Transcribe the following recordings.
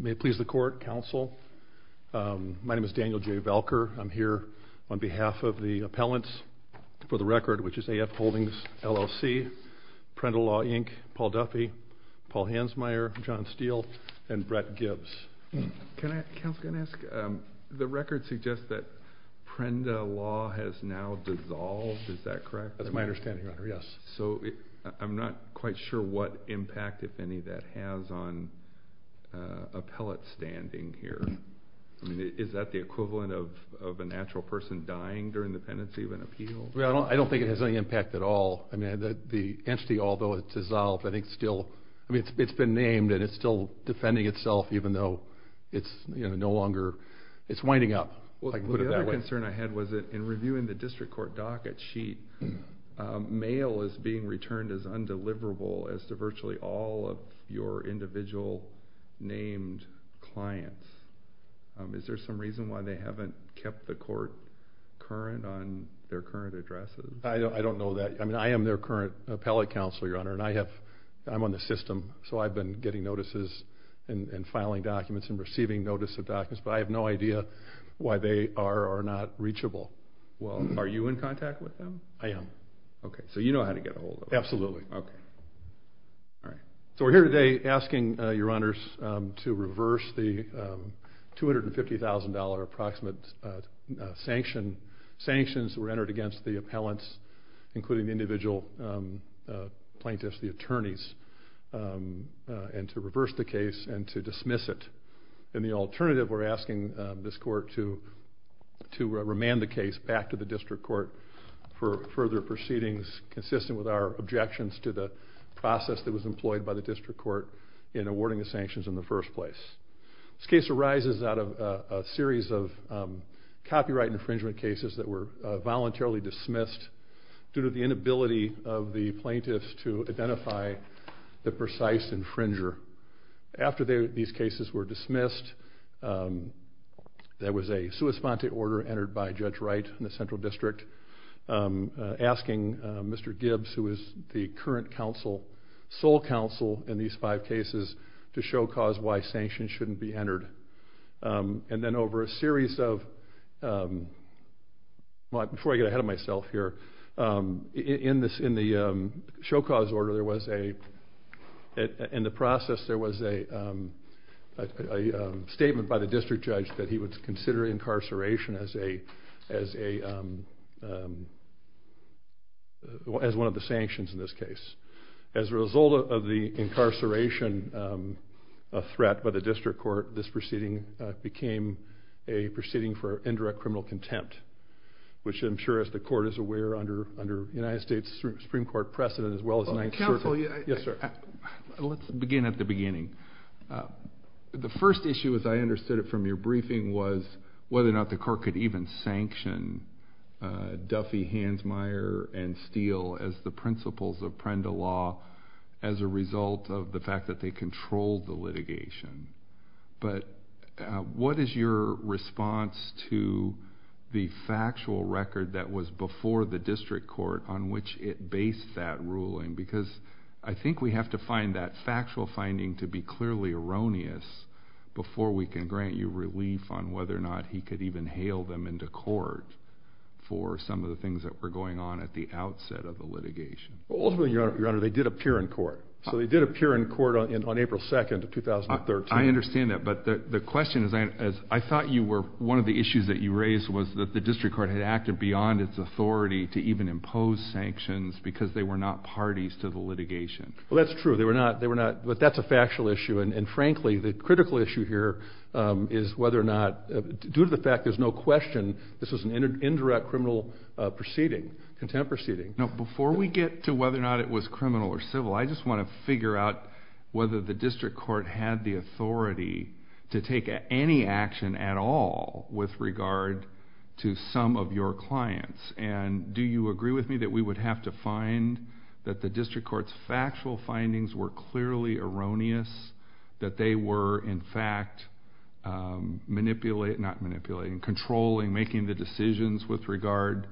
May it please the court, counsel. My name is Daniel J. Valker. I'm here on behalf of the appellants for the record, which is AF Holdings, LLC, Prenda Law, Inc., Paul Duffy, Paul Hansmeier, John Steele, and Brett Gibbs. Can I ask, counsel, can I ask, the record suggests that Prenda Law has now dissolved, is that correct? That's my sure what impact, if any, that has on appellate standing here. I mean, is that the equivalent of a natural person dying during the pendency of an appeal? Well, I don't think it has any impact at all. I mean, the entity, although it's dissolved, I think still, I mean, it's been named and it's still defending itself, even though it's, you know, no longer, it's winding up. Well, the other concern I had was that in reviewing the district court docket sheet, mail is being returned as deliverable as to virtually all of your individual named clients. Is there some reason why they haven't kept the court current on their current addresses? I don't know that. I mean, I am their current appellate counsel, your honor, and I have, I'm on the system, so I've been getting notices and filing documents and receiving notice of documents, but I have no idea why they are or not reachable. Well, are you in contact with them? I am. Okay, so you know how to get a hold of them. Absolutely. So we're here today asking your honors to reverse the $250,000 approximate sanction. Sanctions were entered against the appellants, including individual plaintiffs, the attorneys, and to reverse the case and to dismiss it. In the alternative, we're asking this court to remand the case back to the to the process that was employed by the district court in awarding the sanctions in the first place. This case arises out of a series of copyright infringement cases that were voluntarily dismissed due to the inability of the plaintiffs to identify the precise infringer. After these cases were dismissed, there was a sua sponte order entered by Judge Wright in the Central District asking Mr. Gibbs, who is the current sole counsel in these five cases, to show cause why sanctions shouldn't be entered. And then over a series of, before I get ahead of myself here, in the show cause order there was a, in the process, there was a statement by the district judge that he would consider incarceration as a, as one of the sanctions in this case. As a result of the incarceration of threat by the district court, this proceeding became a proceeding for indirect criminal contempt, which I'm sure as the court is aware, under United States Supreme Court precedent, as well as... Let's begin at the beginning. The first issue, as I understood it from your briefing, was whether or not the Duffy, Hansmeier, and Steele as the principles of Prenda law as a result of the fact that they controlled the litigation. But what is your response to the factual record that was before the district court on which it based that ruling? Because I think we have to find that factual finding to be clearly erroneous before we can grant you relief on whether or not he could even hail them into court for some of the things that were going on at the outset of the litigation. Ultimately, your honor, they did appear in court. So they did appear in court on April 2nd of 2013. I understand that, but the question is, as I thought you were, one of the issues that you raised was that the district court had acted beyond its authority to even impose sanctions because they were not parties to the litigation. Well that's true, they were not, they were not, but that's a factual issue and frankly the critical issue here is whether or not, due to the fact there's no question, this was an indirect criminal proceeding, contempt proceeding. Now before we get to whether or not it was criminal or civil, I just want to figure out whether the district court had the authority to take any action at all with regard to some of your clients. And do you agree with me that we would have to find that the district court's factual findings were in fact manipulating, not manipulating, controlling, making the decisions with regard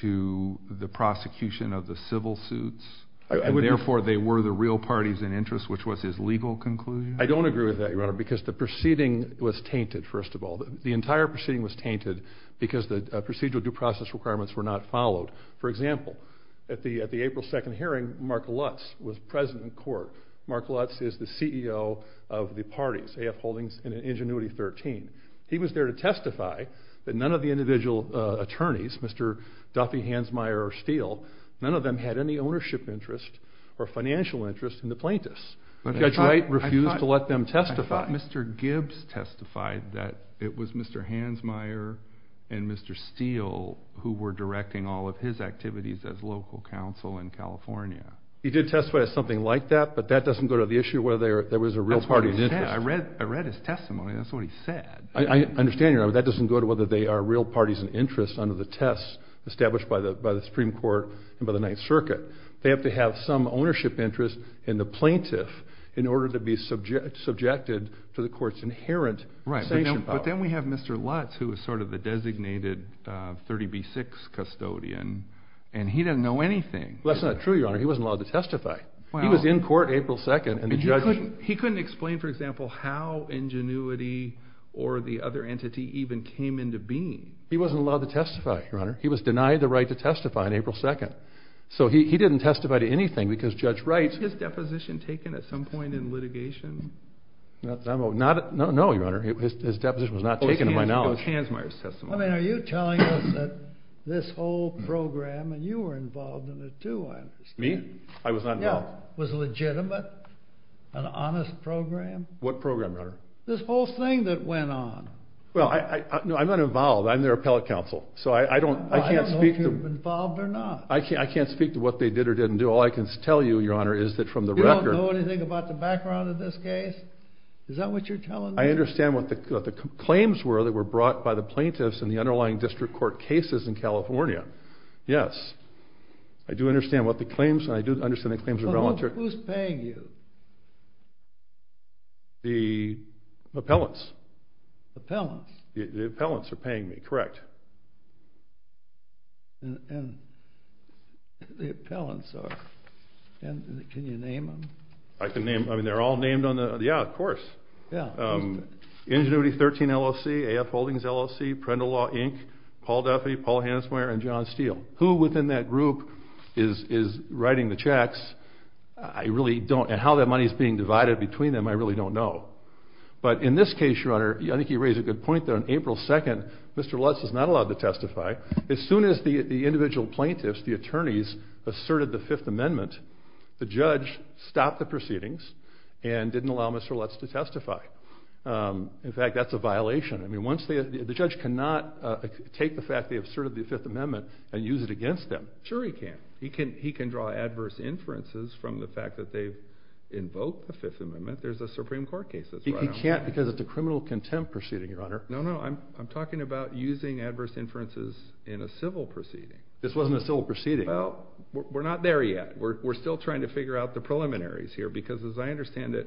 to the prosecution of the civil suits and therefore they were the real parties in interest, which was his legal conclusion? I don't agree with that, your honor, because the proceeding was tainted, first of all. The entire proceeding was tainted because the procedural due process requirements were not followed. For example, at the April 2nd hearing, Mark Lutz was present in court. Mark Lutz is the CEO of the parties, AF Holdings and Ingenuity 13. He was there to testify that none of the individual attorneys, Mr. Duffy Hansmeier or Steele, none of them had any ownership interest or financial interest in the plaintiffs. Judge Wright refused to let them testify. I thought Mr. Gibbs testified that it was Mr. Hansmeier and Mr. Steele who were directing all of his activities as local counsel in California. He did testify of something like that, but that doesn't go to the issue whether there was a real party in interest. I read his testimony, that's what he said. I understand, your honor, that doesn't go to whether they are real parties in interest under the tests established by the Supreme Court and by the Ninth Circuit. They have to have some ownership interest in the plaintiff in order to be subjected to the court's inherent sanction power. Right, but then we have Mr. Lutz who is the designated 30B6 custodian and he didn't know anything. That's not true, your honor. He wasn't allowed to testify. He was in court April 2nd. He couldn't explain, for example, how Ingenuity or the other entity even came into being. He wasn't allowed to testify, your honor. He was denied the right to testify on April 2nd. So he didn't testify to anything because Judge Wright... Was his deposition taken at some point in litigation? No, your honor. His deposition was not taken by now. I mean, are you telling us that this whole program, and you were involved in it too, I understand. Me? I was not involved. Was it legitimate? An honest program? What program, your honor? This whole thing that went on. Well, I'm not involved. I'm their appellate counsel, so I don't... I can't speak to what they did or didn't do. All I can tell you, your honor, is that from the record... You don't know anything about the background of this case? Is that what you're telling me? I understand what the claims were that were brought by the plaintiffs in the underlying district court cases in California. Yes. I do understand what the claims... I do understand the claims were voluntary. Who's paying you? The appellants. Appellants? The appellants are paying me, correct. And the appellants are... Can you name them? I can name... I mean, they're all named on the... Yeah, of course. Yeah. Ingenuity 13 LLC, AF Holdings LLC, Parental Law, Inc., Paul Duffy, Paul Hansmeier, and John Steele. Who within that group is writing the checks, I really don't... And how that money's being divided between them, I really don't know. But in this case, your honor, I think you raise a good point there. On April 2nd, Mr. Lutz is not allowed to testify. As soon as the individual plaintiffs, the attorneys, asserted the Fifth Amendment, the judge stopped the proceedings and didn't allow Mr. Lutz to testify. In fact, that's a violation. I mean, once they... The judge cannot take the fact they asserted the Fifth Amendment and use it against them. Sure he can. He can draw adverse inferences from the fact that they've invoked the Fifth Amendment. There's a Supreme Court case that's running on that. He can't because it's a criminal contempt proceeding, your honor. No, no. I'm talking about using adverse inferences in a civil proceeding. This wasn't a civil proceeding. Well, we're not there yet. We're still trying to figure out the preliminaries here because as I understand it,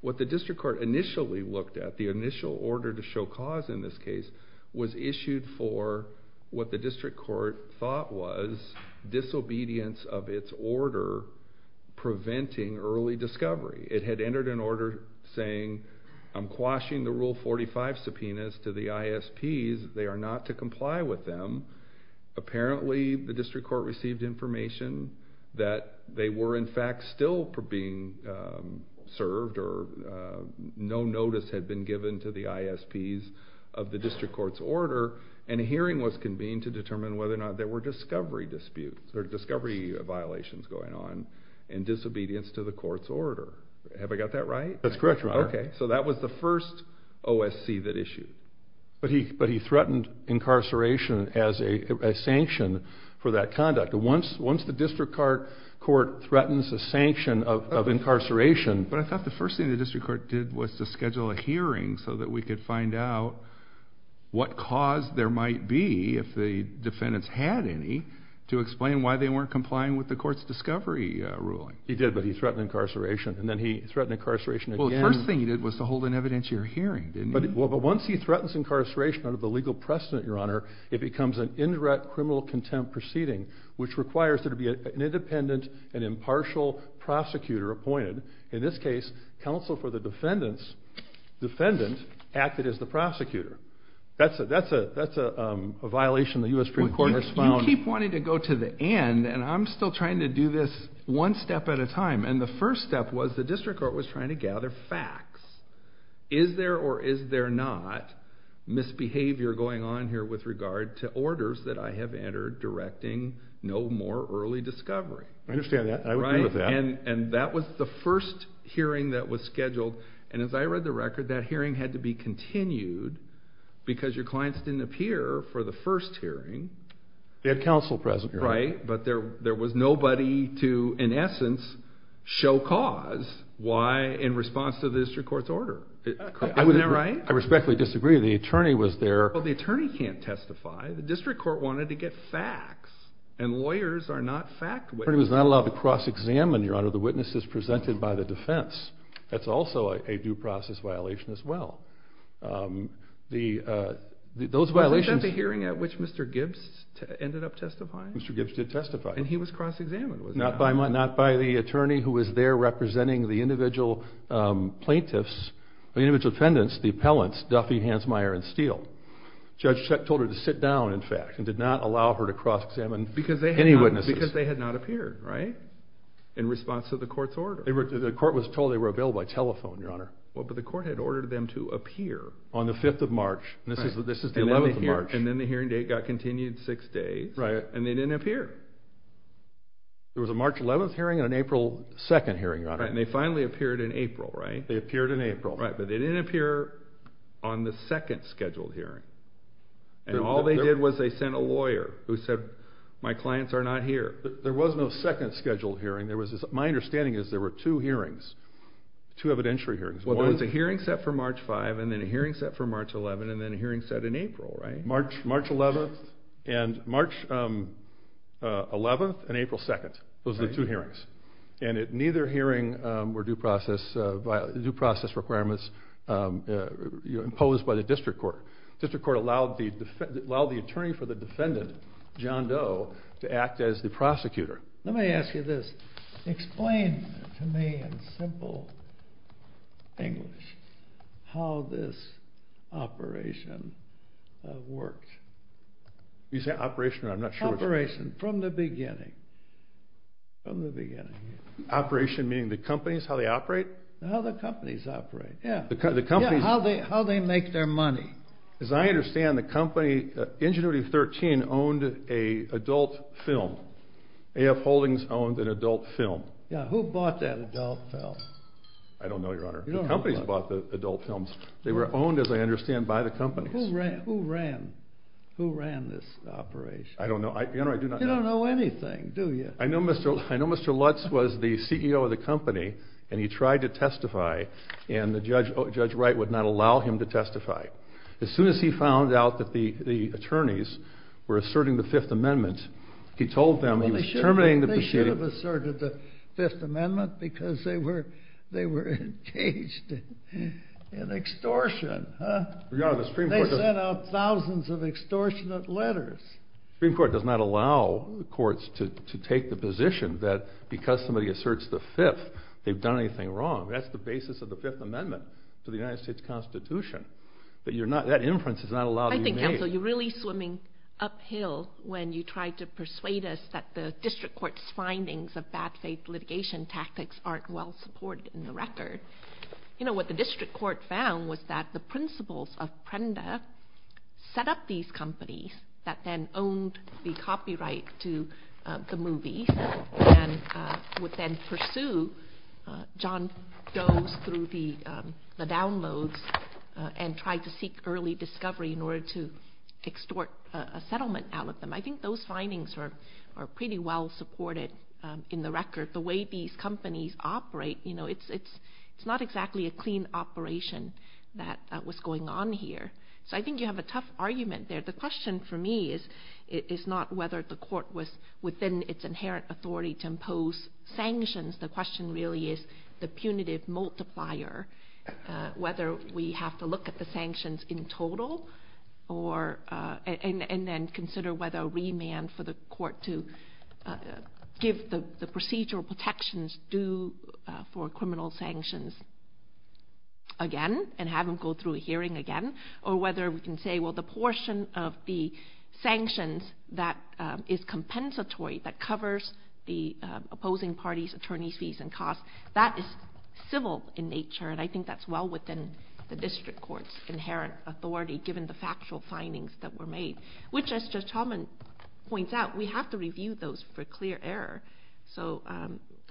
what the district court initially looked at, the initial order to show cause in this case, was issued for what the district court thought was disobedience of its order preventing early discovery. It had entered an order saying, I'm quashing the Rule 45 subpoenas to the ISPs. They are not to comply with them. Apparently, the district court received information that they were, in fact, still being served or no notice had been given to the ISPs of the district court's order, and a hearing was convened to determine whether or not there were discovery disputes. There were discovery violations going on in disobedience to the court's order. Have I got that right? That's correct, your honor. Okay. So that was the first OSC that issued. But he threatened incarceration as a sanction for that conduct. Once the district court threatens a sanction of incarceration. But I thought the first thing the district court did was to schedule a hearing so that we could find out what cause there might be, if the defendants had any, to explain why they weren't complying with the court's discovery ruling. He did, but he threatened incarceration, and then he threatened incarceration again. Well, the first thing he did was to hold an evidentiary hearing, didn't he? Well, but once he threatens incarceration under the legal precedent, your honor, it becomes an indirect criminal contempt proceeding, which requires there to be an independent and impartial prosecutor appointed. In this case, counsel for the defendants acted as the prosecutor. That's a violation the U.S. Supreme Court has found. You keep wanting to go to the end, and I'm still trying to do this one step at a time. And the first step was the district court was trying to gather facts. Is there or is there not misbehavior going on here with regard to orders that I have entered directing no more early discovery? I understand that. I agree with that. And that was the first hearing that was scheduled. And as I read the record, that hearing had to be continued because your clients didn't appear for the first hearing. That's right, but there was nobody to, in essence, show cause why in response to the district court's order. Isn't that right? I respectfully disagree. The attorney was there. Well, the attorney can't testify. The district court wanted to get facts, and lawyers are not fact witnesses. The attorney was not allowed to cross-examine, your honor, the witnesses presented by the defense. That's also a due process violation as well. Are we talking about the hearing at which Mr. Gibbs ended up testifying? Mr. Gibbs did testify. And he was cross-examined. Not by the attorney who was there representing the individual plaintiffs, the individual defendants, the appellants, Duffy, Hansmeier, and Steele. Judge Scheck told her to sit down, in fact, and did not allow her to cross-examine any witnesses. Because they had not appeared, right, in response to the court's order. The court was told they were available by telephone, your honor. Well, but the court had ordered them to appear. On the 5th of March. Right. This is the 11th of March. And then the hearing date got continued six days. Right. And they didn't appear. There was a March 11th hearing and an April 2nd hearing, your honor. Right, and they finally appeared in April, right? They appeared in April. Right, but they didn't appear on the second scheduled hearing. And all they did was they sent a lawyer who said, my clients are not here. There was no second scheduled hearing. My understanding is there were two hearings, two evidentiary hearings. One was a hearing set for March 5th and then a hearing set for March 11th and then a hearing set in April, right? March 11th and March 11th and April 2nd. Those were the two hearings. And neither hearing were due process requirements imposed by the district court. The district court allowed the attorney for the defendant, John Doe, to act as the prosecutor. Let me ask you this. Explain to me in simple English how this operation worked. You say operation? I'm not sure. Operation, from the beginning. From the beginning. Operation meaning the companies, how they operate? How the companies operate, yeah. Yeah, how they make their money. As I understand, the company, Ingenuity 13, owned an adult film. AF Holdings owned an adult film. Yeah, who bought that adult film? I don't know, Your Honor. The companies bought the adult films. They were owned, as I understand, by the companies. Who ran this operation? I don't know. You don't know anything, do you? I know Mr. Lutz was the CEO of the company, and he tried to testify, and Judge Wright would not allow him to testify. As soon as he found out that the attorneys were asserting the Fifth Amendment, he told them he was terminating the proceeding. They should have asserted the Fifth Amendment because they were engaged in extortion. They sent out thousands of extortionate letters. The Supreme Court does not allow courts to take the position that because somebody asserts the Fifth, they've done anything wrong. That's the basis of the Fifth Amendment to the United States Constitution. That inference is not allowed to be made. I think, counsel, you're really swimming uphill when you try to persuade us that the district court's findings of bad faith litigation tactics aren't well-supported in the record. You know, what the district court found was that the principles of PREMDA set up these companies that then owned the copyright to the movies and would then pursue John Jones through the downloads and tried to seek early discovery in order to extort a settlement out of them. I think those findings are pretty well-supported in the record. The way these companies operate, you know, it's not exactly a clean operation that was going on here. So I think you have a tough argument there. The question for me is not whether the court was within its inherent authority to impose sanctions. The question really is the punitive multiplier, whether we have to look at the sanctions in total and then consider whether a remand for the court to give the procedural protections due for criminal sanctions again and have them go through a hearing again, or whether we can say, well, the portion of the sanctions that is compensatory, that covers the opposing parties' attorney fees and costs, that is civil in nature, and I think that's well within the district court's inherent authority given the factual findings that were made, which, as Justice Helman points out, we have to review those for clear error. So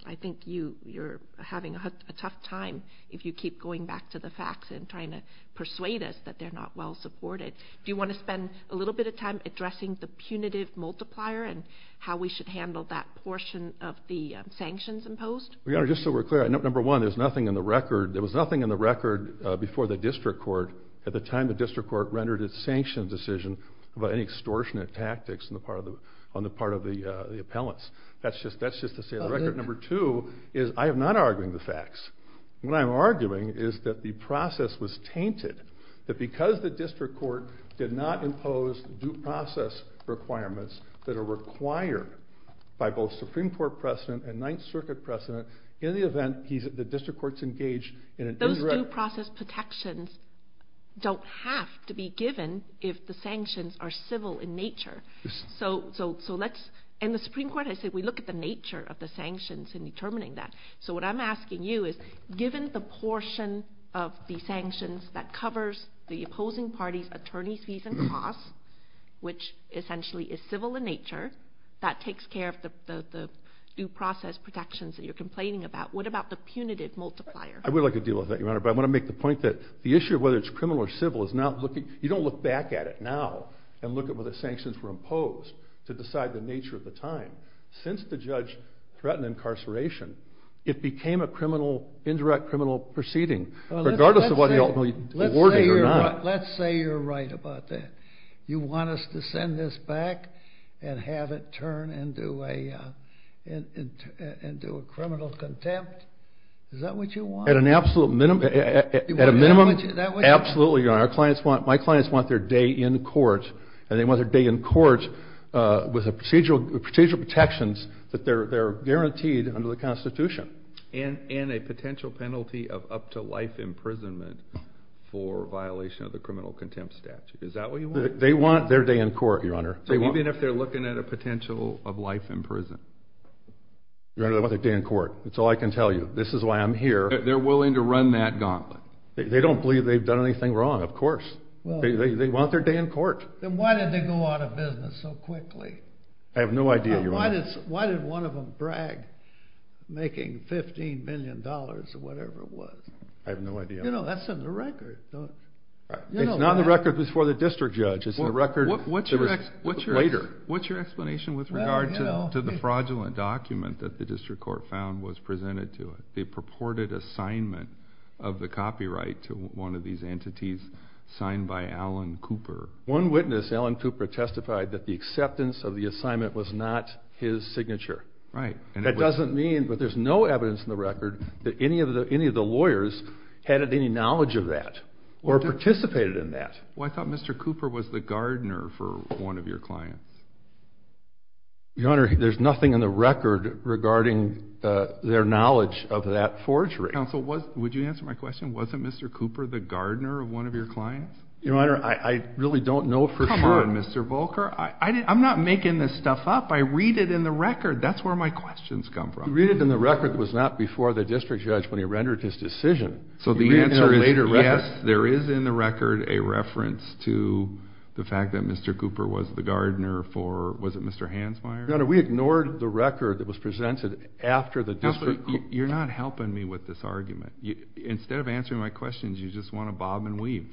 I think you're having a tough time if you keep going back to the facts and trying to persuade us that they're not well-supported. Do you want to spend a little bit of time addressing the punitive multiplier and how we should handle that portion of the sanctions imposed? Your Honor, just so we're clear, number one, there was nothing in the record before the district court at the time the district court rendered its sanction decision about any extortionate tactics on the part of the appellants. That's just to say the record. Number two is I am not arguing the facts. What I'm arguing is that the process was tainted, that because the district court did not impose due process requirements that are required by both Supreme Court precedent and Ninth Circuit precedent, in the event the district court's engaged in an indirect— Those due process protections don't have to be given if the sanctions are civil in nature. In the Supreme Court, I said we look at the nature of the sanctions in determining that. So what I'm asking you is given the portion of the sanctions that covers the opposing party's attorney's fees and costs, which essentially is civil in nature, that takes care of the due process protections that you're complaining about, what about the punitive multiplier? I would like to deal with that, Your Honor, but I want to make the point that the issue of whether it's criminal or civil is not looking— to decide the nature of the time. Since the judge threatened incarceration, it became an indirect criminal proceeding, regardless of whether you awarded it or not. Let's say you're right about that. You want us to send this back and have it turn into a criminal contempt? Is that what you want? At an absolute minimum— Is that what you want? Absolutely, Your Honor. My clients want their day in court, and they want their day in court with the procedural protections that they're guaranteed under the Constitution. And a potential penalty of up to life imprisonment for violation of the criminal contempt statute. Is that what you want? They want their day in court, Your Honor. Even if they're looking at a potential of life in prison? They want their day in court. That's all I can tell you. This is why I'm here. They're willing to run that gauntlet? They don't believe they've done anything wrong, of course. They want their day in court. Then why did they go out of business so quickly? I have no idea, Your Honor. Why did one of them brag making $15 million or whatever it was? I have no idea. You know, that's in the record. It's not in the record before the district judge. It's in the record later. What's your explanation with regard to the fraudulent document that the district court found was presented to it? They purported assignment of the copyright to one of these entities signed by Alan Cooper. One witness, Alan Cooper, testified that the acceptance of the assignment was not his signature. Right. That doesn't mean that there's no evidence in the record that any of the lawyers had any knowledge of that or participated in that. Well, I thought Mr. Cooper was the gardener for one of your clients. Your Honor, there's nothing in the record regarding their knowledge of that forgery. Counsel, would you answer my question? Wasn't Mr. Cooper the gardener of one of your clients? Your Honor, I really don't know for sure. Come on, Mr. Volker. I'm not making this stuff up. I read it in the record. That's where my questions come from. He read it in the record. It was not before the district judge when he rendered his decision. So the answer is yes, there is in the record a reference to the fact that Mr. Cooper was the gardener for, was it Mr. Hansmeier? Your Honor, we ignored the record that was presented after the district. You're not helping me with this argument. Instead of answering my questions, you just want to bob and weave.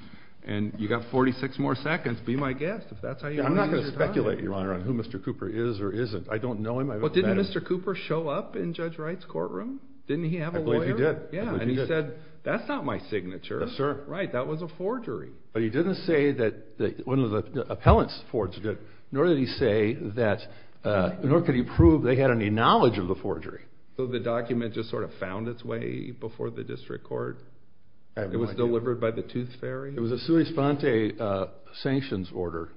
And you've got 46 more seconds. Be my guest, if that's how you decide. I'm not going to speculate, Your Honor, on who Mr. Cooper is or isn't. I don't know him. But didn't Mr. Cooper show up in Judge Wright's courtroom? Didn't he have a lawyer? I believe he did. Yeah, and he said, that's not my signature. Yes, sir. Right, that was a forgery. But he didn't say that one of the appellants forged it, nor did he say that, nor could he prove they had any knowledge of the forgery. So the document just sort of found its way before the district court? It was delivered by the tooth fairy? It was a sui sponte sanctions order.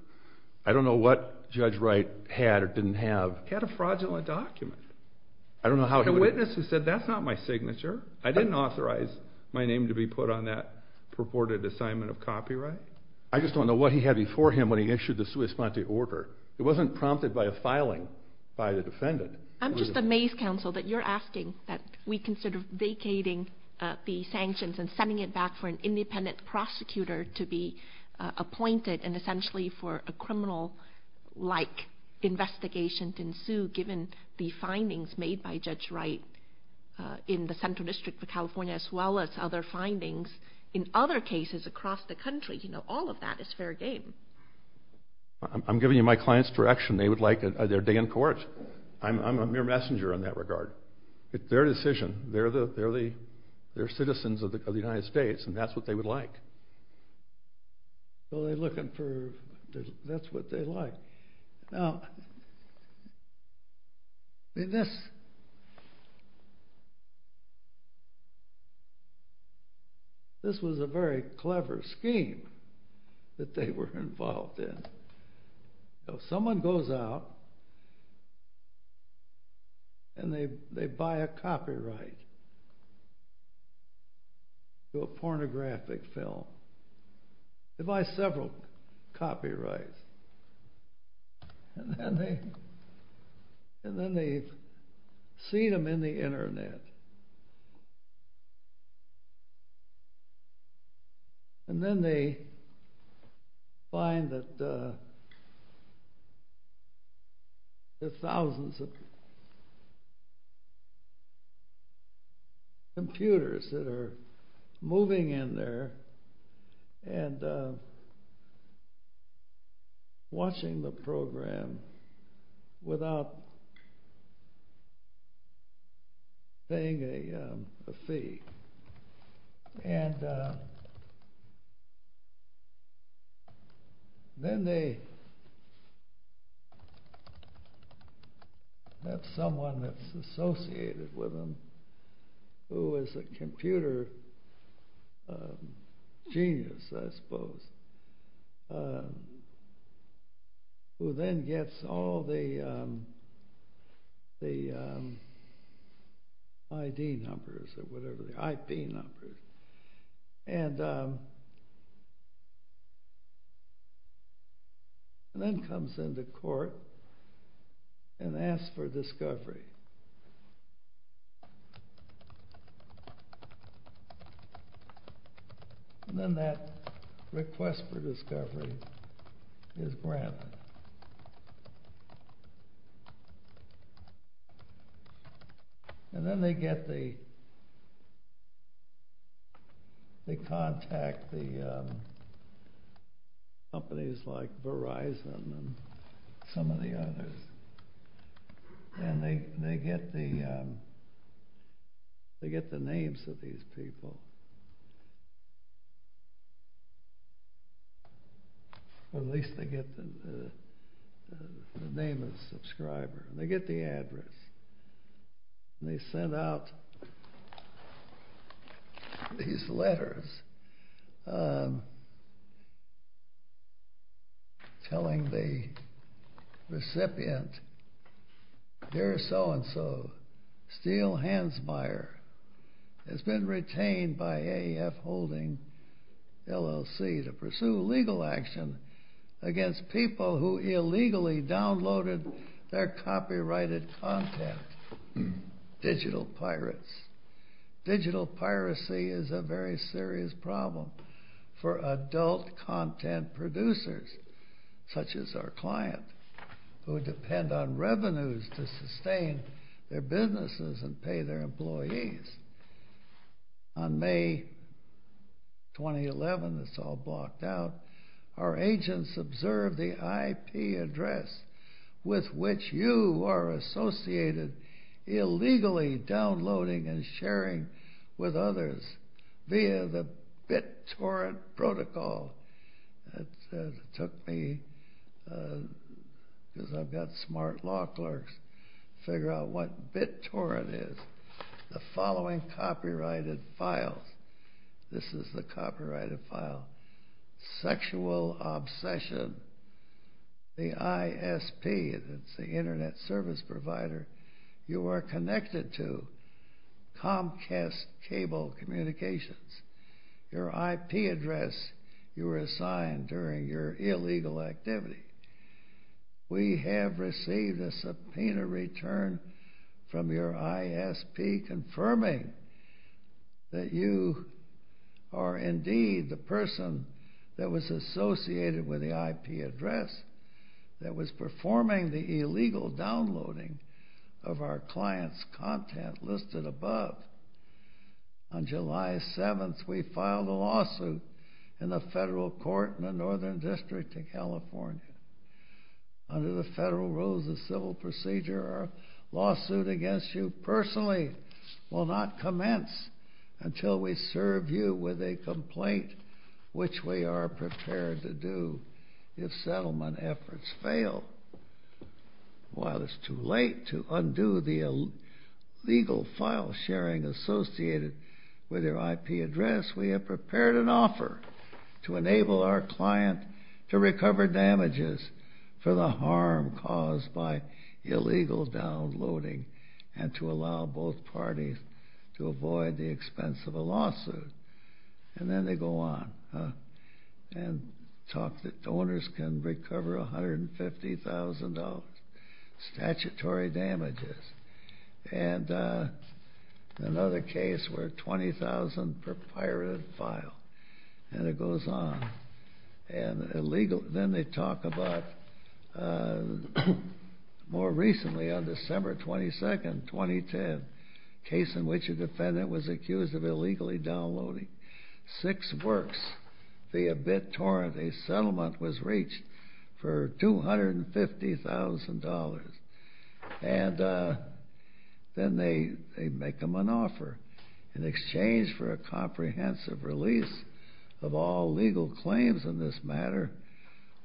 I don't know what Judge Wright had or didn't have. He had a fraudulent document. I don't know how he would have. The witness has said, that's not my signature. I didn't authorize my name to be put on that purported assignment of copyright. I just don't know what he had before him when he issued the sui sponte order. It wasn't prompted by a filing by the defendant. I'm just amazed, counsel, that you're asking that we consider vacating the sanctions and sending it back for an independent prosecutor to be appointed and essentially for a criminal-like investigation to ensue given the findings made by Judge Wright in the Central District of California as well as other findings in other cases across the country. You know, all of that is fair game. I'm giving you my clients' direction. They would like their day in court. I'm a mere messenger in that regard. It's their decision. They're citizens of the United States, and that's what they would like. Well, they're looking for – that's what they like. Now, this was a very clever scheme that they were involved in. Someone goes out and they buy a copyright to a pornographic film. They buy several copyrights, and then they see them in the Internet, and then they find that there's thousands of computers that are moving in there and watching the program without paying a fee. And then they have someone that's associated with them who is a computer genius, I suppose, who then gets all the ID numbers or whatever, the IP numbers, and then comes into court and asks for discovery. And then that request for discovery is granted. And then they contact companies like Verizon and some of the others, and they get the names of these people. Well, at least they get the name of the subscriber. They get the address. And they send out these letters telling the recipient, Dear so-and-so, Steele Hansmeier has been retained by AAF Holding LLC to pursue legal action against people who illegally downloaded their copyrighted content. Digital pirates. Digital piracy is a very serious problem for adult content producers, such as our client, who depend on revenues to sustain their businesses and pay their employees. On May 2011, it's all blocked out, our agents observed the IP address with which you are associated illegally downloading and sharing with others via the BitTorrent protocol. It took me, because I've got smart law clerks, to figure out what BitTorrent is. The following copyrighted file. This is the copyrighted file. Sexual Obsession. The ISP, the Internet Service Provider, you are connected to Comcast Cable Communications. Your IP address you were assigned during your illegal activity. We have received a subpoena return from your ISP confirming that you are indeed the person that was associated with the IP address that was performing the illegal downloading of our client's content listed above. On July 7th, we filed a lawsuit in the federal court in the Northern District of California. Under the federal rules of civil procedure, our lawsuit against you personally will not commence until we serve you with a complaint, which we are prepared to do if settlement efforts fail. While it's too late to undo the illegal file sharing associated with your IP address, we have prepared an offer to enable our client to recover damages for the harm caused by illegal downloading and to allow both parties to avoid the expense of a lawsuit. And then they go on and talk that owners can recover $150,000 statutory damages. And another case where $20,000 per pirate file. And it goes on. And then they talk about more recently, on December 22nd, 2010, a case in which a defendant was accused of illegally downloading six works via BitTorrent. A settlement was reached for $250,000. And then they make them an offer in exchange for a comprehensive release of all legal claims in this matter,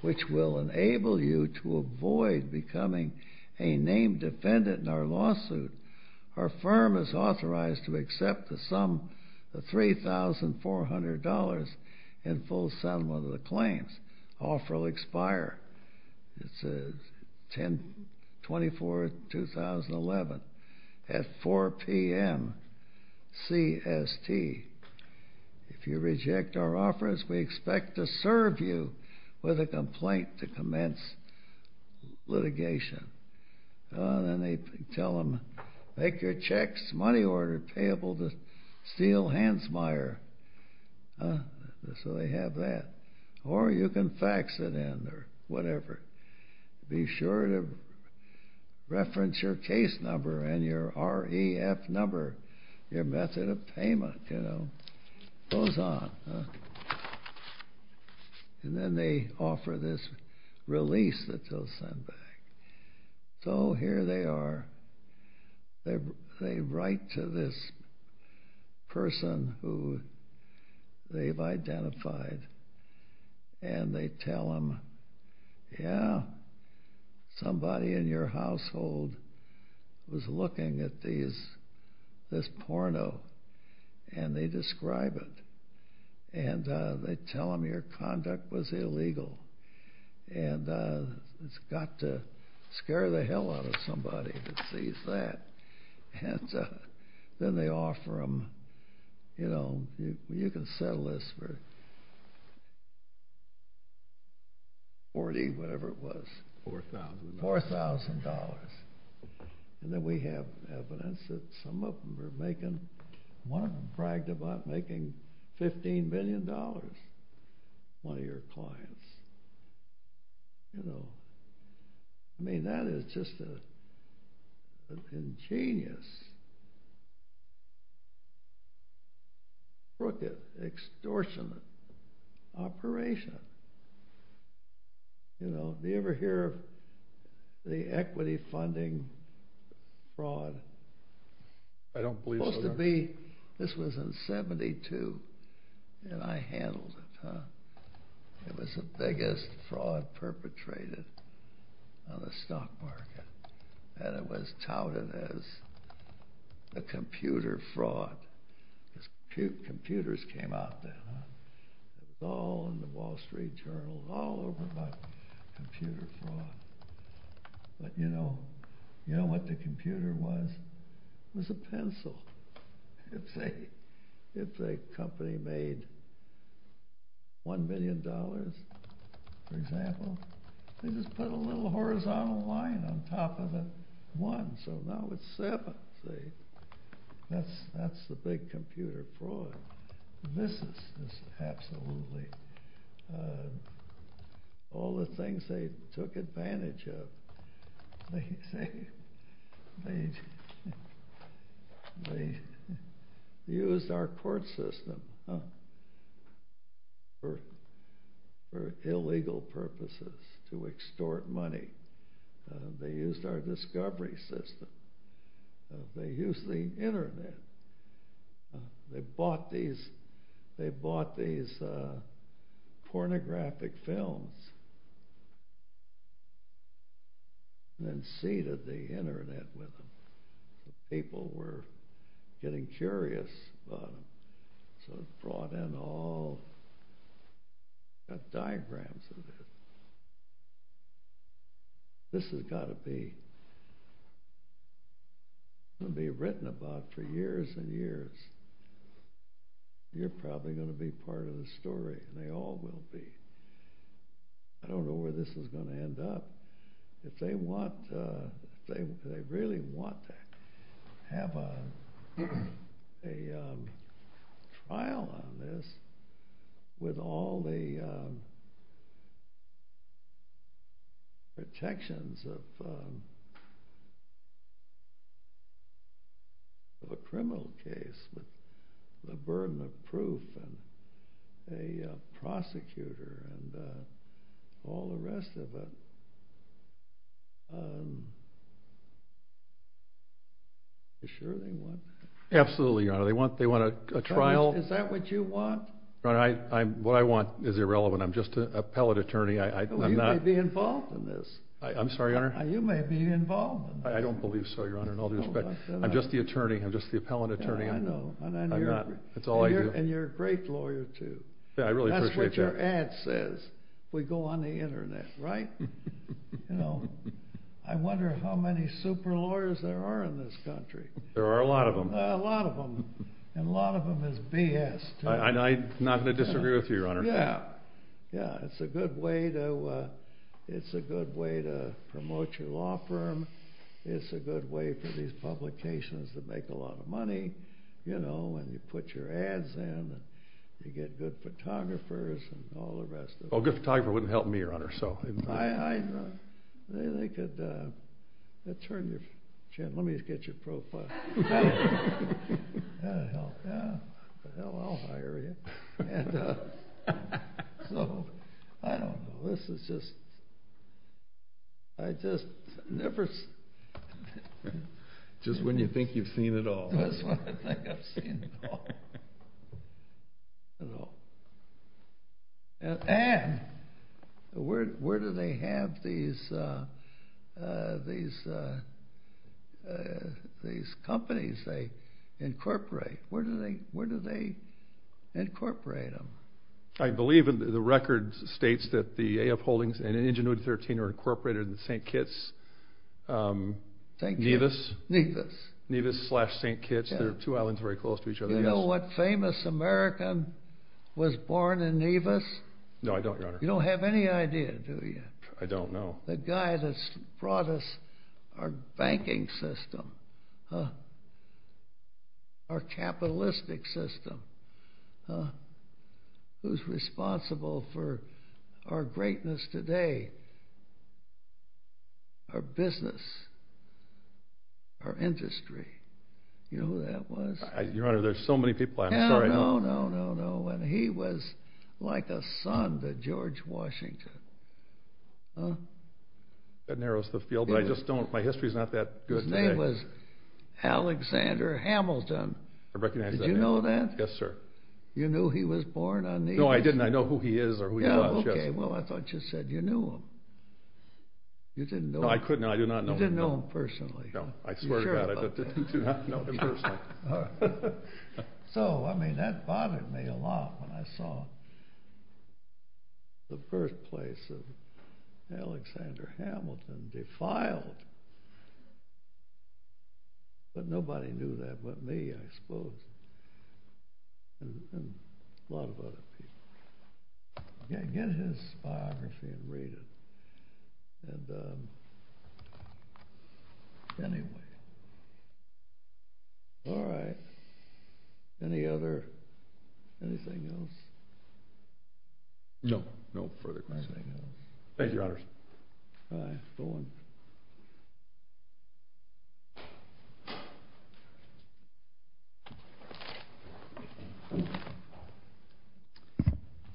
which will enable you to avoid becoming a named defendant in our lawsuit. Our firm is authorized to accept the sum, the $3,400, in full settlement of the claims. Offer will expire. It's the 24th, 2011, at 4 p.m. CST. If you reject our offers, we expect to serve you with a complaint to commence litigation. And they tell them, make your checks money order payable to steal Hansmeier. So they have that. Or you can fax it in, or whatever. Be sure to reference your case number and your REF number, your method of payment. Goes on. And then they offer this release that they'll send back. So here they are. They write to this person who they've identified, and they tell them, yeah, somebody in your household was looking at these, this porno, and they describe it. And they tell them your conduct was illegal. And it's got to scare the hell out of somebody that sees that. And then they offer them, you know, you can settle this for 40, whatever it was. $4,000. And then we have evidence that some of them are making, one of them bragged about making $15 billion for one of your clients. You know. I mean, that is just an ingenious, crooked, extortionate operation. You know, do you ever hear of the equity funding fraud? I don't believe so. Supposed to be, this was in 72. And I handled it, huh? It was the biggest fraud perpetrated on the stock market. And it was touted as a computer fraud. Computers came out then, huh? It's all in the Wall Street Journal, all over about computer fraud. But you know, you know what the computer was? It was a pencil. If a company made $1 billion, for example, they just put a little horizontal line on top of it, one. So now it's seven, see? That's the big computer fraud. This is absolutely all the things they took advantage of. They used our court system for illegal purposes to extort money. They used our discovery system. They used the internet. They bought these pornographic films and then seeded the internet with them. People were getting curious about them. So they brought in all the diagrams of it. This has got to be written about for years and years. You're probably going to be part of the story, and they all will be. I don't know where this is going to end up. If they really want to have a trial on this, with all the detections of a criminal case, the burden of proof, and a prosecutor, and all the rest of it, are you sure they want that? Absolutely, they want a trial. Is that what you want? What I want is irrelevant. I'm just an appellate attorney. You may be involved in this. I'm sorry, Your Honor? You may be involved in this. I don't believe so, Your Honor, in all due respect. I'm just the attorney. I'm just the appellate attorney. I know. And you're a great lawyer, too. That's what your ad says. We go on the internet, right? I wonder how many super lawyers there are in this country. There are a lot of them. A lot of them. And a lot of them is BS. I'm not going to disagree with you, Your Honor. Yeah. Yeah, it's a good way to promote your law firm. It's a good way for these publications to make a lot of money. And you put your ads in, and you get good photographers, and all the rest of it. Well, a good photographer wouldn't help me, Your Honor, so. I know. Let's turn this. Jim, let me get your profile. Yeah, hell, yeah. Hell, I'll hire you. And I don't know. This is just, I just never. Just when you think you've seen it all. That's when I think I've seen it all. And where do they have these companies they incorporate? Where do they incorporate them? I believe the record states that the A.F. Holdings and Injunuta 13 are incorporated in St. Kitts. Thank you. Nevis. Nevis. Nevis slash St. Kitts. They're two islands very close to each other. Do you know what famous American was born in Nevis? No, I don't, Your Honor. You don't have any idea, do you? I don't know. The guy that's brought us our banking system, our capitalistic system, who's responsible for our greatness today, our business, our industry. You know who that was? Your Honor, there's so many people. I'm sorry. No, no, no, no, no. And he was like a son to George Washington. Huh? That narrows the field. But I just don't. My history's not that good. His name was Alexander Hamilton. I recognize that name. Did you know that? Yes, sir. You knew he was born on Nevis? No, I didn't. I know who he is or who he was. Yeah, OK. Well, I thought you said you knew him. You didn't know him. No, I could not. I do not know him. You didn't know him personally. No, I swear to God. I do not know him personally. So, I mean, that bothered me a lot when I saw the birthplace of Alexander Hamilton defiled. But nobody knew that but me, I suppose, and a lot of other people. Get his biography and read it. And anyway, all right. Any other, anything else? No, no further questions. Thank you, Your Honors. All right, go on.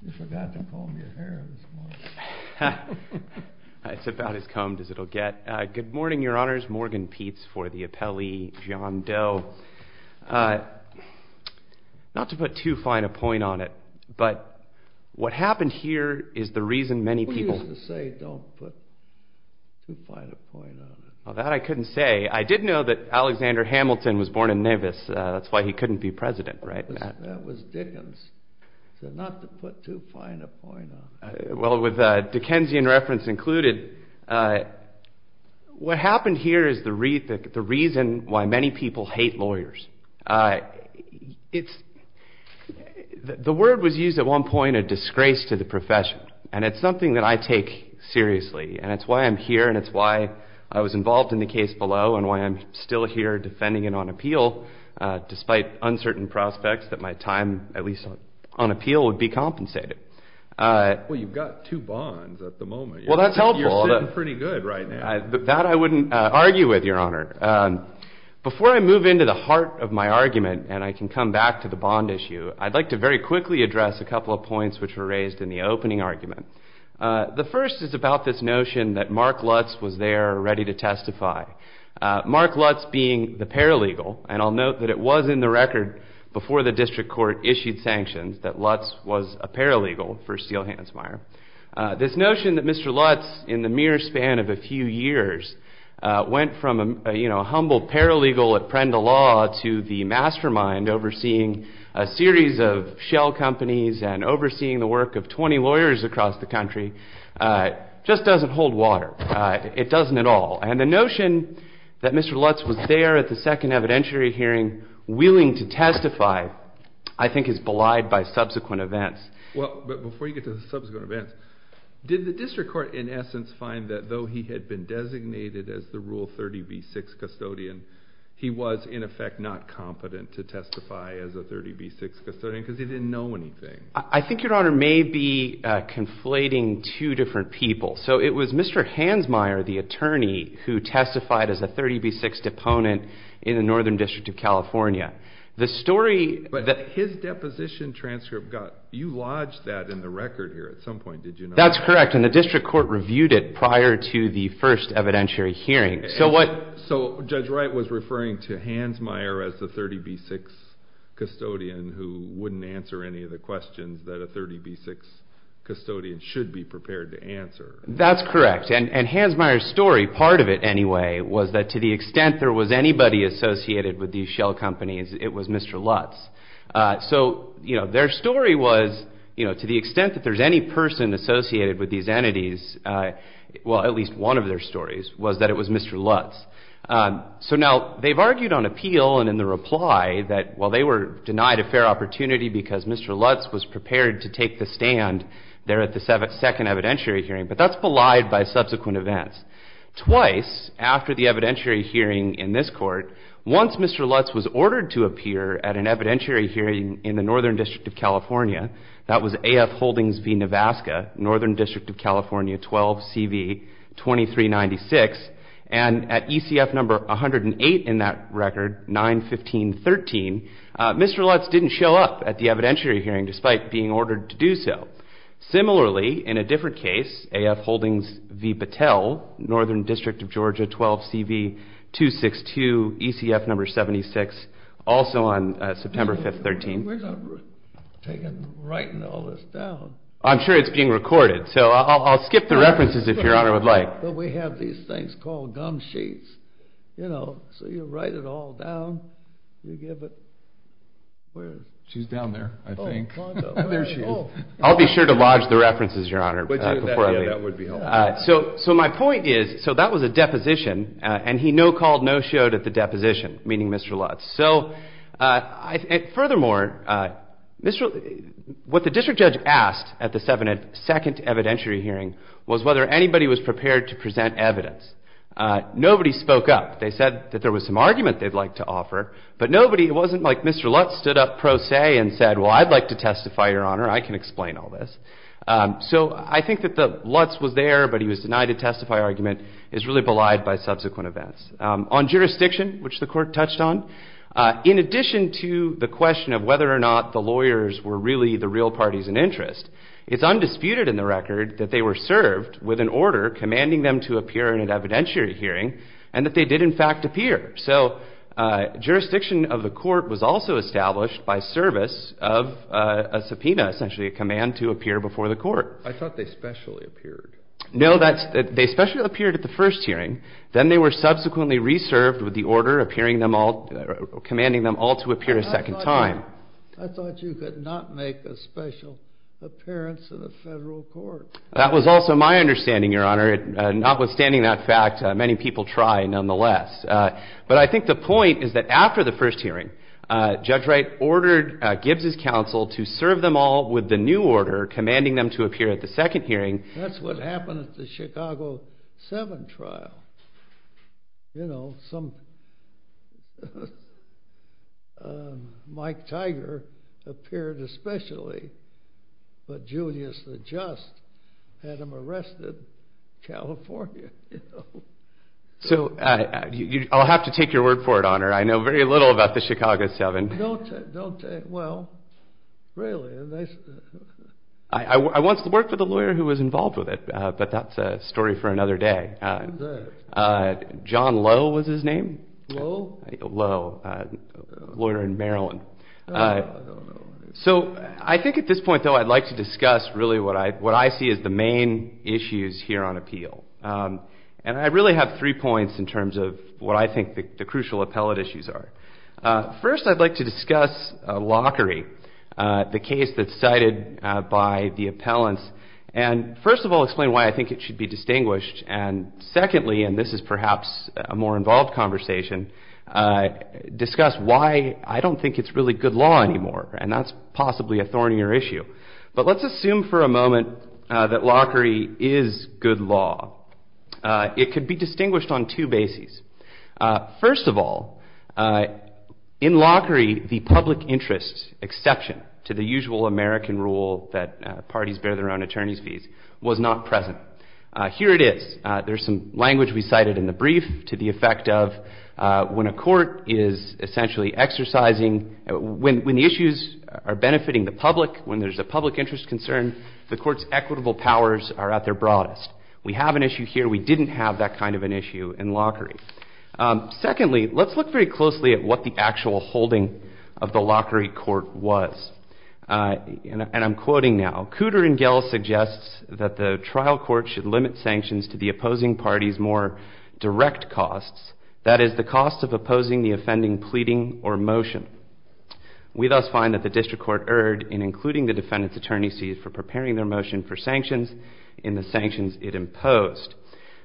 You forgot to comb your hair this morning. It's about as combed as it'll get. Good morning, Your Honors. Morgan Peets for the appellee, John Doe. Not to put too fine a point on it, but what happened here is the reason many people... We used to say don't put too fine a point on it. Well, that I couldn't say. I did know that Alexander Hamilton was born in Nevis. That's why he couldn't be president, right? That was Dickens. Not to put too fine a point on it. Well, with Dickensian reference included, what happened here is the reason why many people hate lawyers. The word was used at one point, a disgrace to the profession, and it's something that I take seriously. And it's why I'm here, and it's why I was involved in the case below, and why I'm still here defending it on appeal, despite uncertain prospects that my time, at least on appeal, would be compensated. Well, you've got two bonds at the moment. Well, that's helpful. You're doing pretty good right now. That I wouldn't argue with, Your Honor. Before I move into the heart of my argument, and I can come back to the bond issue, I'd like to very quickly address a couple of points which were raised in the opening argument. The first is about this notion that Mark Lutz was there, ready to testify. Mark Lutz being the paralegal, and I'll note that it was in the record before the district court issued sanctions that Lutz was a paralegal for Steele Hansmeier. This notion that Mr. Lutz, in the mere span of a few years, went from a humble paralegal at Prenda Law to the mastermind overseeing a series of shell companies and overseeing the work of 20 lawyers across the country just doesn't hold water. It doesn't at all. And the notion that Mr. Lutz was there at the second evidentiary hearing, willing to testify, I think is belied by subsequent events. Well, but before you get to the subsequent events, did the district court, in essence, find that though he had been designated as the Rule 30b-6 custodian, he was, in effect, not competent to testify as a 30b-6 custodian because he didn't know anything? I think, Your Honor, maybe conflating two different people. So it was Mr. Hansmeier, the attorney, who testified as a 30b-6 deponent in the Northern District of California. But his deposition transcript, you lodged that in the record here at some point, did you not? That's correct, and the district court reviewed it prior to the first evidentiary hearing. So Judge Wright was referring to Hansmeier as the 30b-6 custodian who wouldn't answer any of the questions that a 30b-6 custodian should be prepared to answer. That's correct. And Hansmeier's story, part of it anyway, was that to the extent there was anybody associated with these shell companies, it was Mr. Lutz. So, you know, their story was, you know, to the extent that there's any person associated with these entities, well, at least one of their stories, was that it was Mr. Lutz. So now, they've argued on appeal and in the reply that while they were denied a fair opportunity because Mr. Lutz was prepared to take the stand there at the second evidentiary hearing, but that's belied by subsequent events. Twice, after the evidentiary hearing in this court, once Mr. Lutz was ordered to appear at an evidentiary hearing in the Northern District of California, that was AF Holdings v. Nevaska, Northern District of California 12CV-2396, and at ECF number 108 in that record, 9-15-13, Mr. Lutz didn't show up at the evidentiary hearing despite being ordered to do so. Similarly, in a different case, AF Holdings v. Battelle, Northern District of Georgia 12CV-262, ECF number 76, also on September 5th, 13. We're not taking, writing all this down. I'm sure it's being recorded, so I'll skip the references if Your Honor would like. But we have these things called gum sheets, you know, so you write it all down, you give it, where? There she is. I'll be sure to lodge the references, Your Honor, before I leave. So my point is, so that was a deposition, and he no-called, no-showed at the deposition, meaning Mr. Lutz. So, furthermore, what the district judge asked at the second evidentiary hearing was whether anybody was prepared to present evidence. Nobody spoke up. They said that there was some argument they'd like to offer, but nobody, it wasn't like Mr. Lutz stood up pro se and said, well, I'd like to testify, Your Honor, I can explain all this. So I think that the Lutz was there, but he was denied a testifier argument is really belied by subsequent events. On jurisdiction, which the court touched on, in addition to the question of whether or not the lawyers were really the real parties in interest, it's undisputed in the record that they were served with an order commanding them to appear in an evidentiary hearing and that they did, in fact, appear. So jurisdiction of the court was also established by service of a subpoena, essentially a command to appear before the court. I thought they specially appeared. No, they specially appeared at the first hearing. Then they were subsequently reserved with the order commanding them all to appear a second time. I thought you could not make a special appearance in a federal court. That was also my understanding, Your Honor. Notwithstanding that fact, many people try, nonetheless. But I think the point is that after the first hearing, Judge Wright ordered Gibbs's counsel to serve them all with the new order commanding them to appear at the second hearing. That's what happened at the Chicago 7 trial. You know, some... Mike Tiger appeared especially, but Julius the Just had him arrested in California. So I'll have to take your word for it, Honor. I know very little about the Chicago 7. Well, really. I once worked with a lawyer who was involved with it, but that's a story for another day. Who was that? John Lowe was his name. Lowe? Lowe, a lawyer in Maryland. So I think at this point, though, I'd like to discuss really what I see as the main issues here on appeal. And I really have three points in terms of what I think the crucial appellate issues are. First, I'd like to discuss Lockery, the case that's cited by the appellants. And first of all, explain why I think it should be distinguished. And secondly, and this is perhaps a more involved conversation, discuss why I don't think it's really good law anymore. And that's possibly a thornier issue. But let's assume for a moment that Lockery is good law. It could be distinguished on two bases. First of all, in Lockery, the public interest exception to the usual American rule that parties bear their own attorney's fees was not present. Here it is. There's some language we cited in the brief to the effect of when a court is essentially exercising, when issues are benefiting the public, when there's a public interest concern, the court's equitable powers are at their broadest. We have an issue here. We didn't have that kind of an issue in Lockery. Secondly, let's look very closely at what the actual holding of the Lockery court was. And I'm quoting now. Cooter and Gell suggests that the trial court should limit sanctions to the opposing party's more direct costs, that is, the cost of opposing the offending pleading or motion. We thus find that the district court erred in including the defendant's attorney's fees for preparing their motion for sanctions in the sanctions it imposed.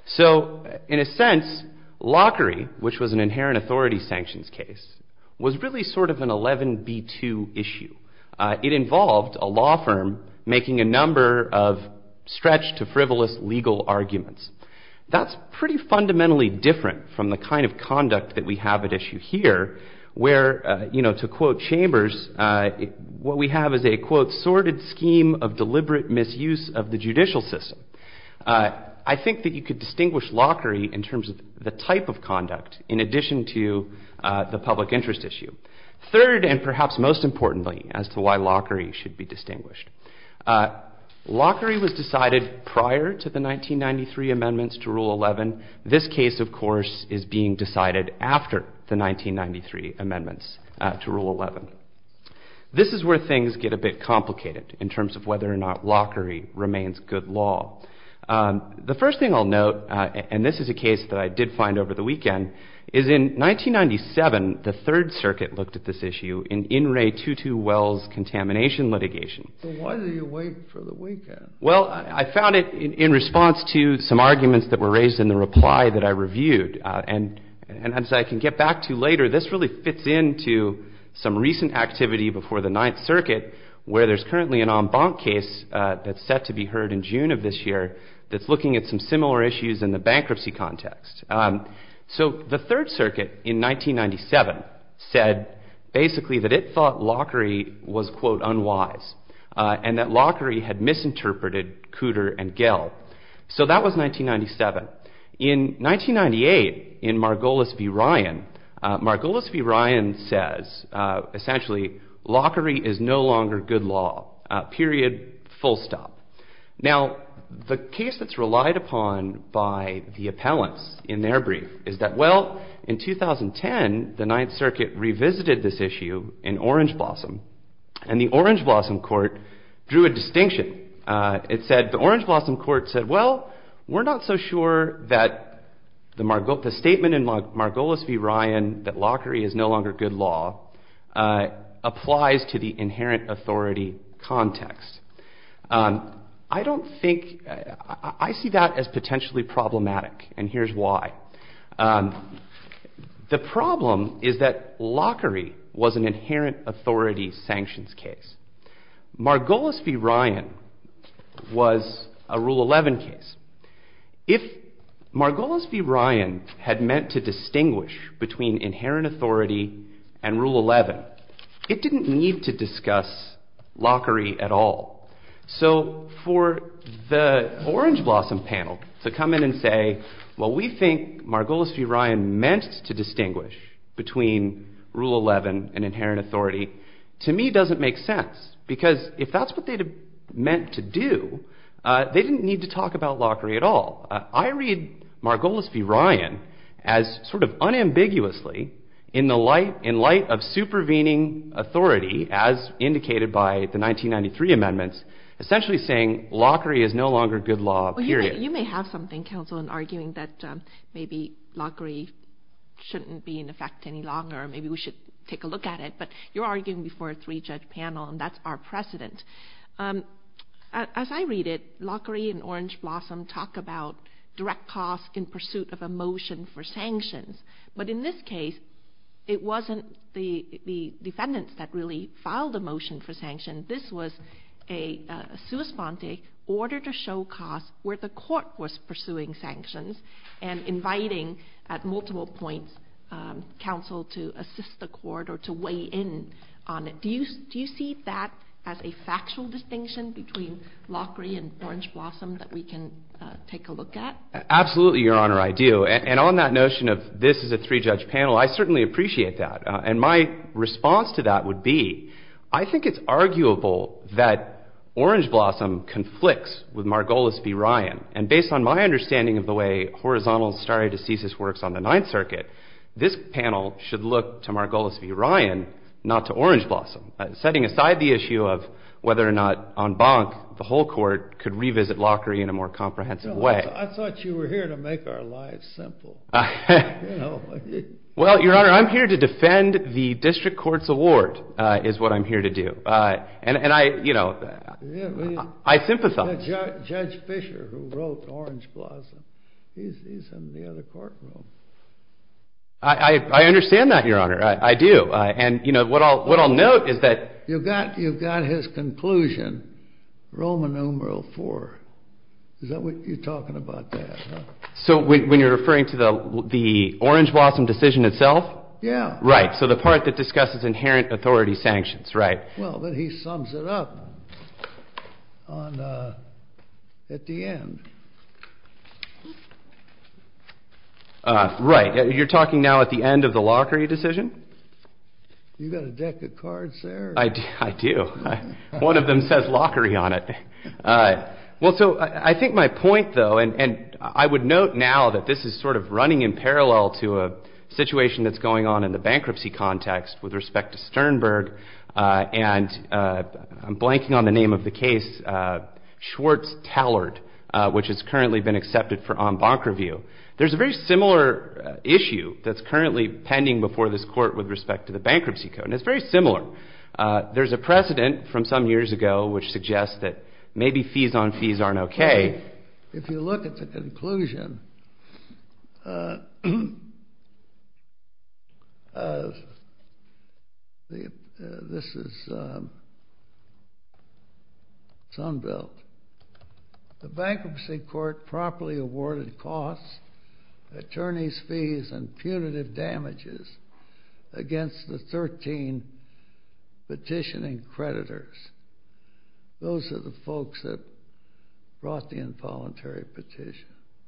So, in a sense, Lockery, which was an inherent authority sanctions case, was really sort of an 11B2 issue. It involved a law firm making a number of stretched to frivolous legal arguments. That's pretty fundamentally different from the kind of conduct that we have at issue here where, you know, to quote Chambers, what we have is a, quote, sorted scheme of deliberate misuse of the judicial system. I think that you could distinguish Lockery in terms of the type of conduct in addition to the public interest issue. Third, and perhaps most importantly, as to why Lockery should be distinguished, Lockery was decided prior to the 1993 amendments to Rule 11. This case, of course, is being decided after the 1993 amendments to Rule 11. This is where things get a bit complicated in terms of whether or not Lockery remains good law. The first thing I'll note, and this is a case that I did find over the weekend, is in 1997, the Third Circuit looked at this issue in In re Tutu Wells' contamination litigation. Why did you wait for the weekend? Well, I found it in response to some arguments that were raised in the reply that I reviewed. And as I can get back to later, this really fits into some recent activity before the Ninth Circuit where there's currently an en banc case that's set to be heard in June of this year that's looking at some similar issues in the bankruptcy context. So the Third Circuit, in 1997, said basically that it thought Lockery was, quote, unwise and that Lockery had misinterpreted Cooter and Gell. So that was 1997. In 1998, in Margolis v. Ryan, Margolis v. Ryan says, essentially, Lockery is no longer good law, period, full stop. Now, the case that's relied upon by the appellants in their brief is that, well, in 2010, the Ninth Circuit revisited this issue in Orange Blossom and the Orange Blossom court drew a distinction. It said the Orange Blossom court said, well, we're not so sure that the statement in Margolis v. Ryan that Lockery is no longer good law applies to the inherent authority context. I don't think, I see that as potentially problematic and here's why. The problem is that Lockery was an inherent authority sanctions case. Margolis v. Ryan was a Rule 11 case. If Margolis v. Ryan had meant to distinguish between inherent authority and Rule 11, it didn't need to discuss Lockery at all. So for the Orange Blossom panel to come in and say, well, we think Margolis v. Ryan meant to distinguish between Rule 11 and inherent authority, to me, doesn't make sense because if that's what they meant to do, they didn't need to talk about Lockery at all. I read Margolis v. Ryan as sort of unambiguously in light of supervening authority as indicated by the 1993 amendments, essentially saying Lockery is no longer good law, period. You may have something, counsel, in arguing that maybe Lockery shouldn't be in effect any longer or maybe we should take a look at it, but you're arguing before a three-judge panel and that's our precedent. As I read it, Lockery and Orange Blossom talk about direct costs in pursuit of a motion for sanctions, but in this case, it wasn't the defendants that really filed the motion for sanctions. This was a sua sponte, order to show costs, where the court was pursuing sanctions and inviting at multiple points counsel to assist the court or to weigh in on it. Do you see that as a factual distinction between Lockery and Orange Blossom that we can take a look at? Absolutely, Your Honor, I do. And on that notion of this is a three-judge panel, I certainly appreciate that. And my response to that would be I think it's arguable that Orange Blossom conflicts with Margolis v. Ryan. And based on my understanding of the way horizontal stare decisis works on the Ninth Circuit, this panel should look to Margolis v. Ryan, not to Orange Blossom, setting aside the issue of whether or not on bonk the whole court could revisit Lockery in a more comprehensive way. I thought you were here to make our lives simple. Well, Your Honor, I'm here to defend the district court's award is what I'm here to do. And I, you know, I sympathize. Judge Fischer, who wrote Orange Blossom, he's in the other courtroom. I understand that, Your Honor, I do. And, you know, what I'll note is that... You've got his conclusion, Roman numeral four. Is that what you're talking about there? So when you're referring to the Orange Blossom decision itself? Yeah. Right, so the part that discusses inherent authority sanctions, right. Well, but he sums it up at the end. Right, you're talking now at the end of the Lockery decision? You got a deck of cards there? I do. One of them says Lockery on it. Well, so I think my point, though, and I would note now that this is sort of running in parallel to a situation that's going on in the bankruptcy context with respect to Sternberg, and I'm blanking on the name of the case, Schwartz-Tallard, which has currently been accepted for on-bonk review. There's a very similar issue that's currently pending before this court with respect to the bankruptcy code, and it's very similar. There's a precedent from some years ago which suggests that maybe fees on fees aren't okay. If you look at the conclusion... This is Sunbelt. The bankruptcy court properly awarded costs, attorneys' fees and punitive damages against the 13 petitioning creditors. Those are the folks that brought the involuntary petition.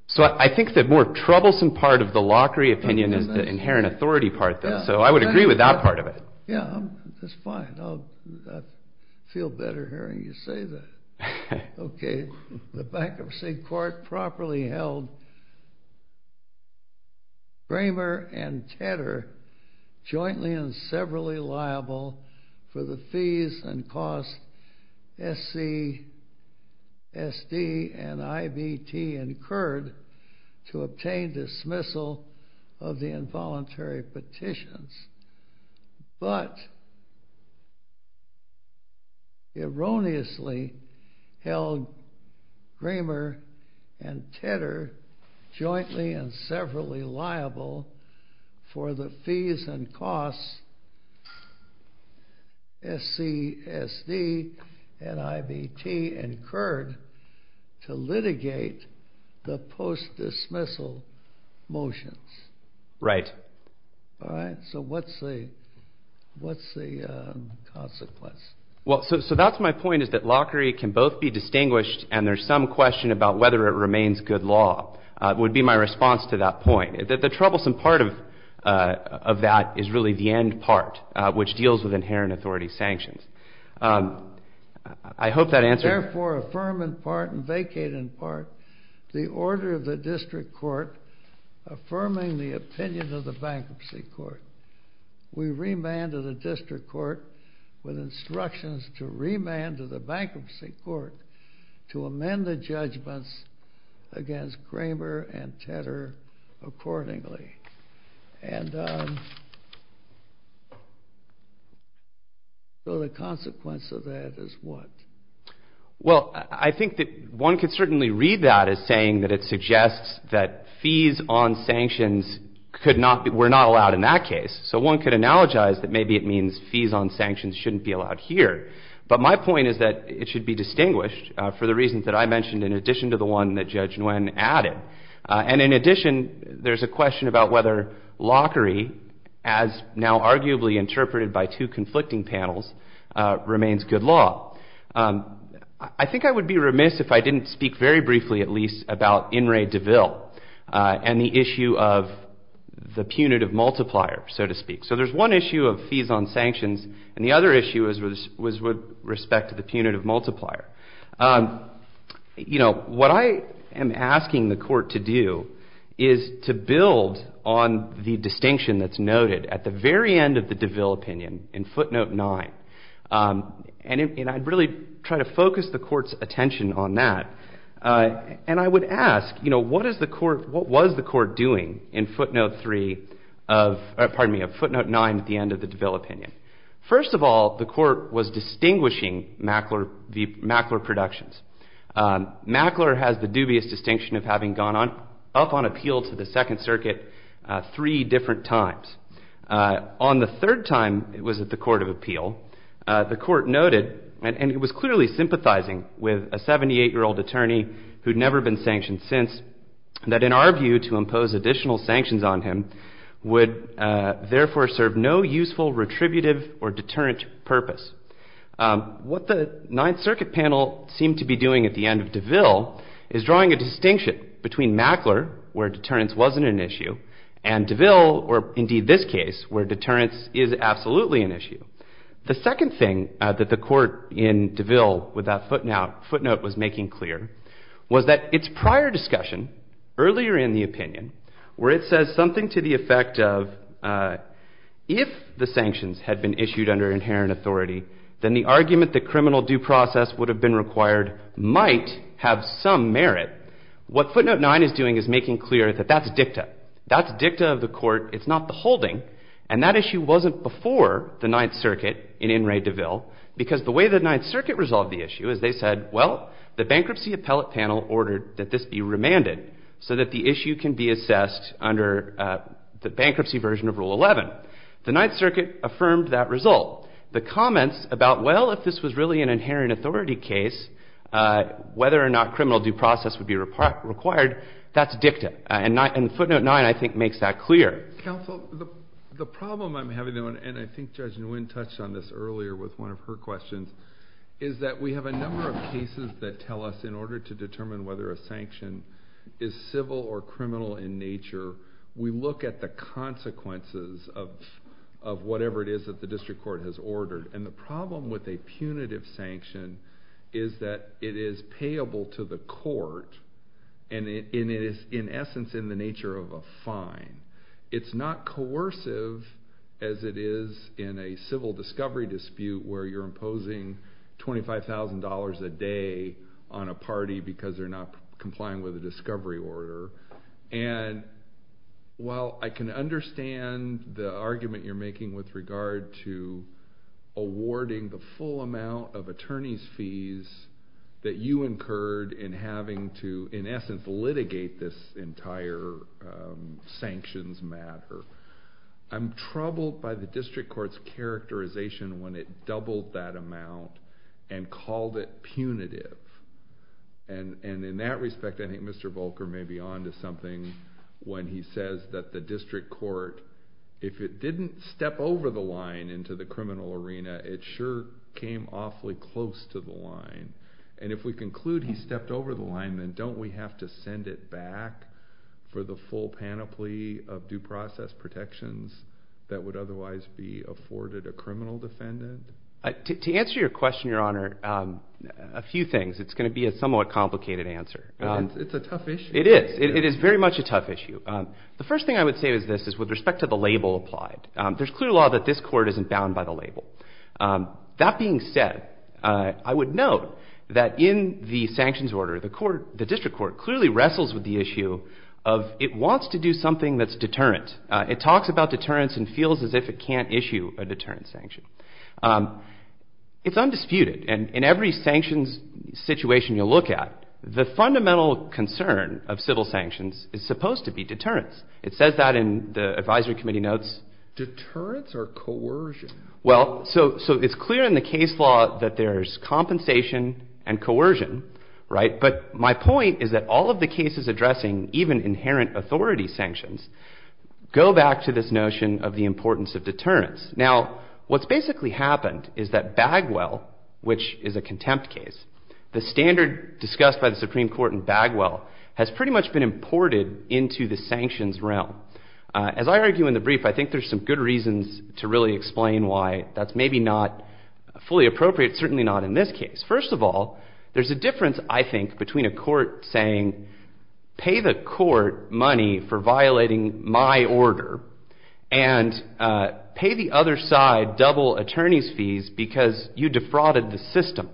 So I think the more troublesome part of the Lockery opinion is the inherent authority part, so I would agree with that part of it. Yeah, that's fine. I feel better hearing you say that. Okay, the bankruptcy court properly held Kramer and Tedder jointly and severally liable for the fees and costs SC, SD, and IVT incurred to obtain dismissal of the involuntary petitions, but erroneously held Kramer and Tedder jointly and severally liable for the fees and costs SC, SD, and IVT incurred to litigate the post-dismissal motions. Right. All right, so what's the consequence? Well, so that's my point, is that Lockery can both be distinguished and there's some question about whether it remains good law would be my response to that point. The troublesome part of that is really the end part, which deals with inherent authority sanctions. I hope that answers... Therefore, affirm in part and vacate in part the order of the district court affirming the opinion of the bankruptcy court. We remand to the district court with instructions to remand to the bankruptcy court to amend the judgments against Kramer and Tedder accordingly. And so the consequence of that is what? Well, I think that one could certainly read that as saying that it suggests that fees on sanctions were not allowed in that case. So one could analogize that maybe it means fees on sanctions shouldn't be allowed here. But my point is that it should be distinguished for the reasons that I mentioned in addition to the one that Judge Nguyen added. And in addition, there's a question about whether Lockery, as now arguably interpreted by two conflicting panels, remains good law. I think I would be remiss if I didn't speak very briefly at least about In re De Vil and the issue of the punitive multiplier, so to speak. So there's one issue of fees on sanctions and the other issue is with respect to the punitive multiplier. What I am asking the court to do is to build on the distinction that's noted at the very end of the De Vil opinion in footnote 9. And I'd really try to focus the court's attention on that. And I would ask, you know, what was the court doing in footnote 9 at the end of the De Vil opinion? First of all, the court was distinguishing Mackler Productions. Mackler has the dubious distinction of having gone up on appeal to the Second Circuit three different times. On the third time it was at the Court of Appeal, the court noted, and it was clearly sympathizing with a 78-year-old attorney who'd never been sanctioned since, that in our view to impose additional sanctions on him would therefore serve no useful retributive or deterrent purpose. What the Ninth Circuit panel seemed to be doing at the end of De Vil is drawing a distinction between Mackler, where deterrence wasn't an issue, and De Vil, or indeed this case, where deterrence is absolutely an issue. The second thing that the court in De Vil with that footnote was making clear was that its prior discussion earlier in the opinion where it says something to the effect of if the sanctions had been issued under inherent authority, then the argument that criminal due process would have been required might have some merit. What footnote 9 is doing is making clear that that's a dicta. That's a dicta of the court. It's not the holding, and that issue wasn't before the Ninth Circuit in In re De Vil because the way the Ninth Circuit resolved the issue is they said, well, the bankruptcy appellate panel ordered that this be remanded so that the issue can be assessed under the bankruptcy version of Rule 11. The Ninth Circuit affirmed that result. The comments about, well, if this was really an inherent authority case, whether or not criminal due process would be required, that's a dicta. And footnote 9, I think, makes that clear. Counsel, the problem I'm having, though, and I think Judge Nguyen touched on this earlier with one of her questions, is that we have a number of cases that tell us in order to determine whether a sanction is civil or criminal in nature, we look at the consequences of whatever it is that the district court has ordered. And the problem with a punitive sanction is that it is payable to the court, and it is, in essence, in the nature of a fine. It's not coercive as it is in a civil discovery dispute where you're imposing $25,000 a day on a party because they're not complying with a discovery order. And while I can understand the argument you're making that you incurred in having to, in essence, litigate this entire sanctions matter, I'm troubled by the district court's characterization when it doubled that amount and called it punitive. And in that respect, I think Mr. Volcker may be onto something when he says that the district court, if it didn't step over the line into the criminal arena, it sure came awfully close to the line. And if we conclude he stepped over the line, then don't we have to send it back for the full panoply of due process protections that would otherwise be afforded a criminal defendant? To answer your question, Your Honor, a few things. It's going to be a somewhat complicated answer. It's a tough issue. It is. It is very much a tough issue. The first thing I would say to this is with respect to the label applied, there's clear law that this court isn't bound by the label. That being said, I would note that in the sanctions order, the district court clearly wrestles with the issue of it wants to do something that's deterrent. It talks about deterrence and feels as if it can't issue a deterrent sanction. It's undisputed, and in every sanctions situation you look at, the fundamental concern of civil sanctions is supposed to be deterrence. It says that in the advisory committee notes deterrence or coercion. Well, so it's clear in the case law that there's compensation and coercion, right? But my point is that all of the cases addressing even inherent authority sanctions go back to this notion of the importance of deterrence. Now, what's basically happened is that Bagwell, which is a contempt case, the standard discussed by the Supreme Court in Bagwell has pretty much been imported into the sanctions realm. As I argue in the brief, I think there's some good reasons to really explain why that's maybe not fully appropriate, certainly not in this case. First of all, there's a difference, I think, between a court saying, pay the court money for violating my order and pay the other side double attorney's fees because you defrauded the system.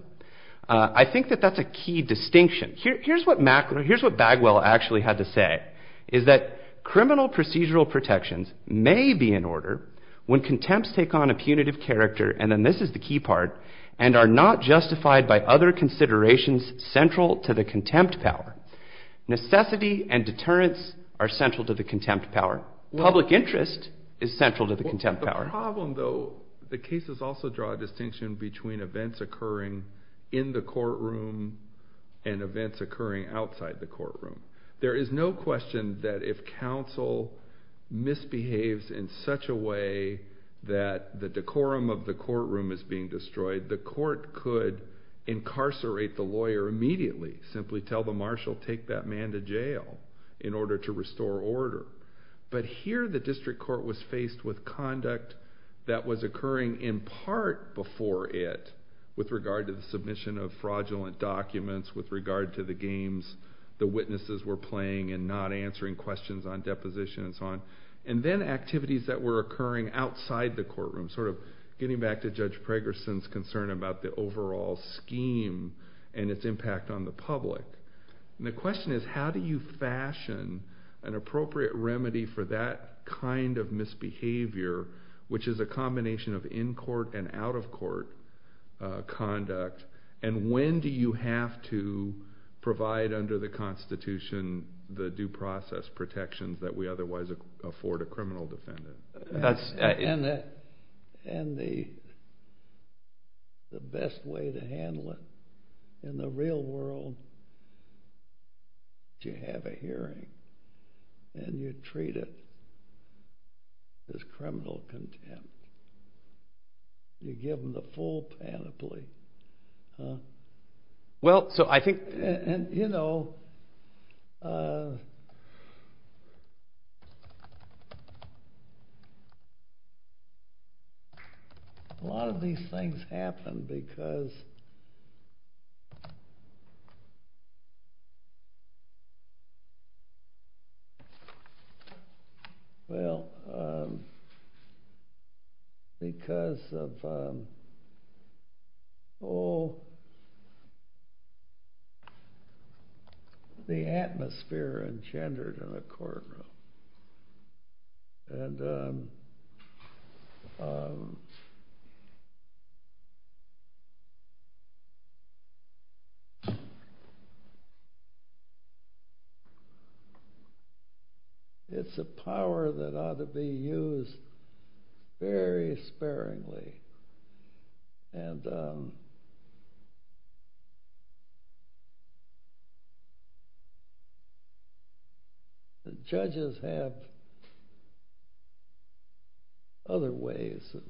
I think that that's a key distinction. Here's what Bagwell actually had to say, is that criminal procedural protections may be in order when contempts take on a punitive character, and then this is the key part, and are not justified by other considerations central to the contempt power. Necessity and deterrence are central to the contempt power. Public interest is central to the contempt power. The problem, though, the cases also draw a distinction between events occurring in the courtroom and events occurring outside the courtroom. There is no question that if counsel misbehaves in such a way that the decorum of the courtroom is being destroyed, the court could incarcerate the lawyer immediately, simply tell the marshal, take that man to jail in order to restore order. But here the district court was faced with conduct that was occurring in part before it with regard to the submission of fraudulent documents, with regard to the games the witnesses were playing and not answering questions on deposition and so on, and then activities that were occurring outside the courtroom, sort of getting back to Judge Pregerson's concern about the overall scheme and its impact on the public. And the question is, how do you fashion an appropriate remedy for that kind of misbehavior, which is a combination of in-court and out-of-court conduct, and when do you have to provide under the Constitution the due process protections that we otherwise afford a criminal defendant? And the best way to handle it in the real world is you have a hearing and you treat it as criminal contempt. You give them the full panoply. Well, so I think, you know... A lot of these things happen because... Well, because of all the atmosphere engendered in a courtroom. And... It's a power that ought to be used very sparingly. And... The judges have other ways of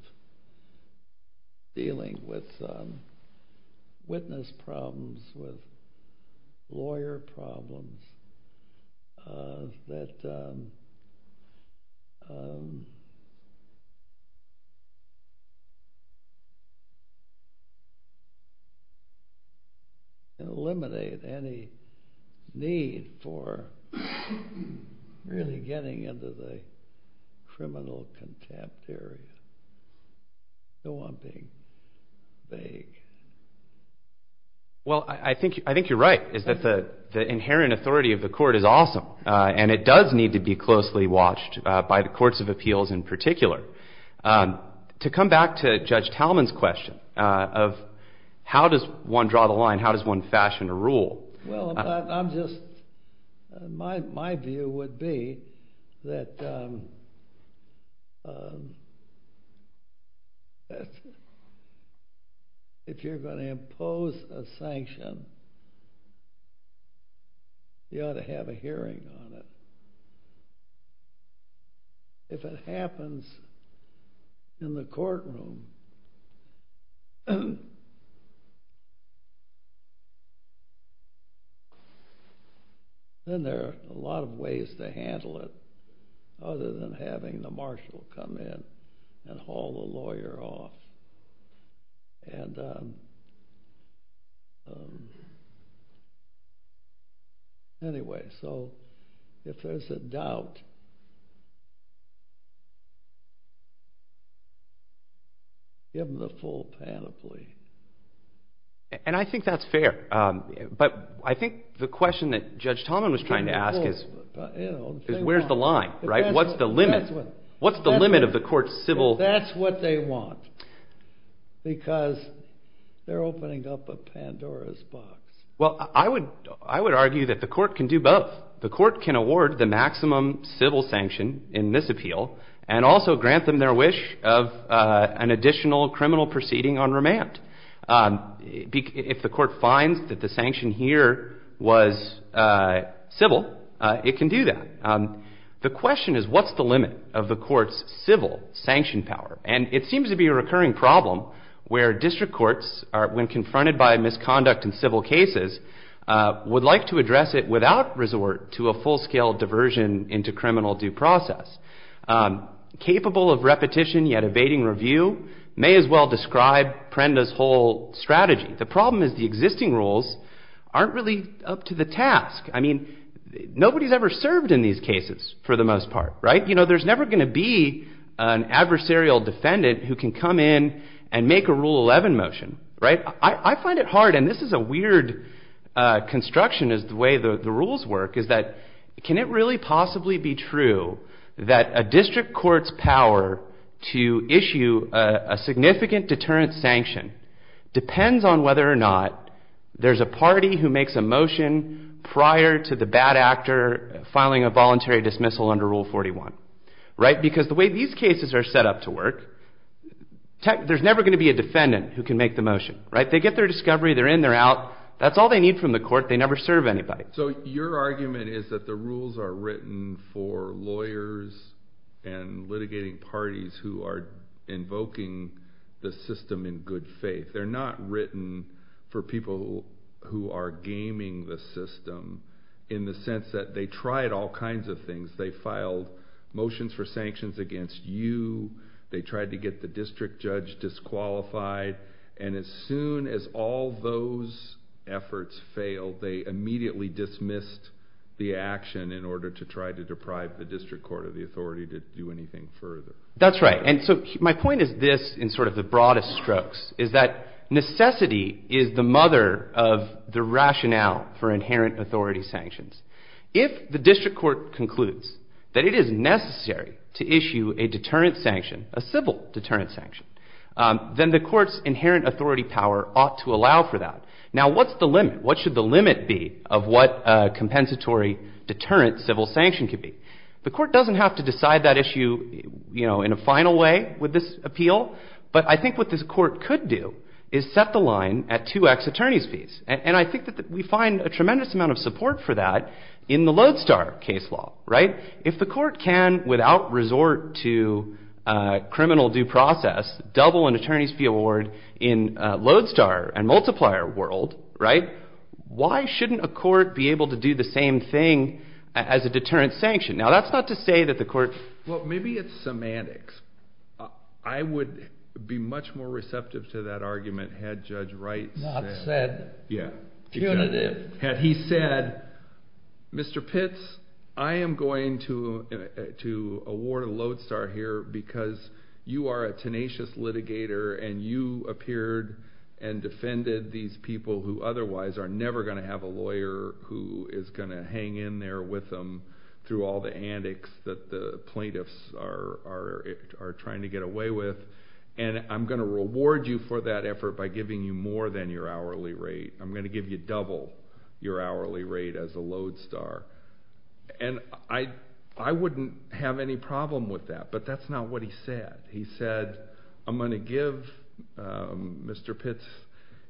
dealing with witness problems, with lawyer problems, that... can eliminate any need for really getting into the criminal contempt theory. So I'm being vague. Well, I think you're right. The inherent authority of the court is awesome, and it does need to be closely watched by the courts of appeals in particular. To come back to Judge Talman's question of how does one draw the line, how does one fashion a rule... Well, I'm just... My view would be that... If you're going to impose a sanction, you ought to have a hearing on it. If it happens in the courtroom... Then there are a lot of ways to handle it other than having the marshal come in and haul the lawyer off. And... Anyway, so if there's a doubt... Give them the full panoply. And I think that's fair. But I think the question that Judge Talman was trying to ask is, is where's the line, right? What's the limit? What's the limit of the court's civil... That's what they want. Because they're opening up a Pandora's box Well, I would argue that the court can do both. The court can award the maximum civil sanction in this appeal and also grant them their wish of an additional criminal proceeding on remand. If the court finds that the sanction here was civil, it can do that. The question is, what's the limit of the court's civil sanction power? And it seems to be a recurring problem where district courts, when confronted by a misconduct in civil cases, would like to address it without resort to a full-scale diversion into criminal due process. Capable of repetition yet evading review may as well describe Prenda's whole strategy. The problem is the existing rules aren't really up to the task. I mean, nobody's ever served in these cases for the most part, right? You know, there's never going to be an adversarial defendant who can come in and make a Rule 11 motion, right? I find it hard, and this is a weird construction of the way the rules work, is that can it really possibly be true that a district court's power to issue a significant deterrent sanction depends on whether or not there's a party who makes a motion prior to the bad actor filing a voluntary dismissal under Rule 41, right? Because the way these cases are set up to work, there's never going to be a defendant who can make the motion, right? They get their discovery, they're in, they're out. That's all they need from the court. They never serve anybody. So your argument is that the rules are written for lawyers and litigating parties who are invoking the system in good faith. They're not written for people who are gaming the system in the sense that they tried all kinds of things. They filed motions for sanctions against you. They tried to get the district judge disqualified. And as soon as all those efforts failed, they immediately dismissed the action in order to try to deprive the district court of the authority to do anything further. That's right, and so my point is this in sort of the broadest strokes, is that necessity is the mother of the rationale for inherent authority sanctions. If the district court concludes that it is necessary to issue a deterrent sanction, a civil deterrent sanction, then the court's inherent authority power ought to allow for that. Now what's the limit? What should the limit be of what a compensatory deterrent civil sanction could be? The court doesn't have to decide that issue in a final way with this appeal, but I think what this court could do is set the line at two ex-attorneys fees. And I think that we find a tremendous amount of support for that in the Lodestar case law, right? If the court can, without resort to criminal due process, double an attorney's fee award in Lodestar and multiplier world, right, why shouldn't a court be able to do the same thing as a deterrent sanction? Now that's not to say that the court's... Well, maybe it's semantics. I would be much more receptive to that argument had Judge Wright said... Not said. Yeah. Had he said, Mr. Pitts, I am going to award Lodestar here because you are a tenacious litigator and you appeared and defended these people who otherwise are never going to have a lawyer who is going to hang in there with them through all the antics that the plaintiffs are trying to get away with, and I'm going to reward you for that effort by giving you more than your hourly rate. I'm going to give you double your hourly rate as a Lodestar. And I wouldn't have any problem with that, but that's not what he said. He said, I'm going to give Mr. Pitts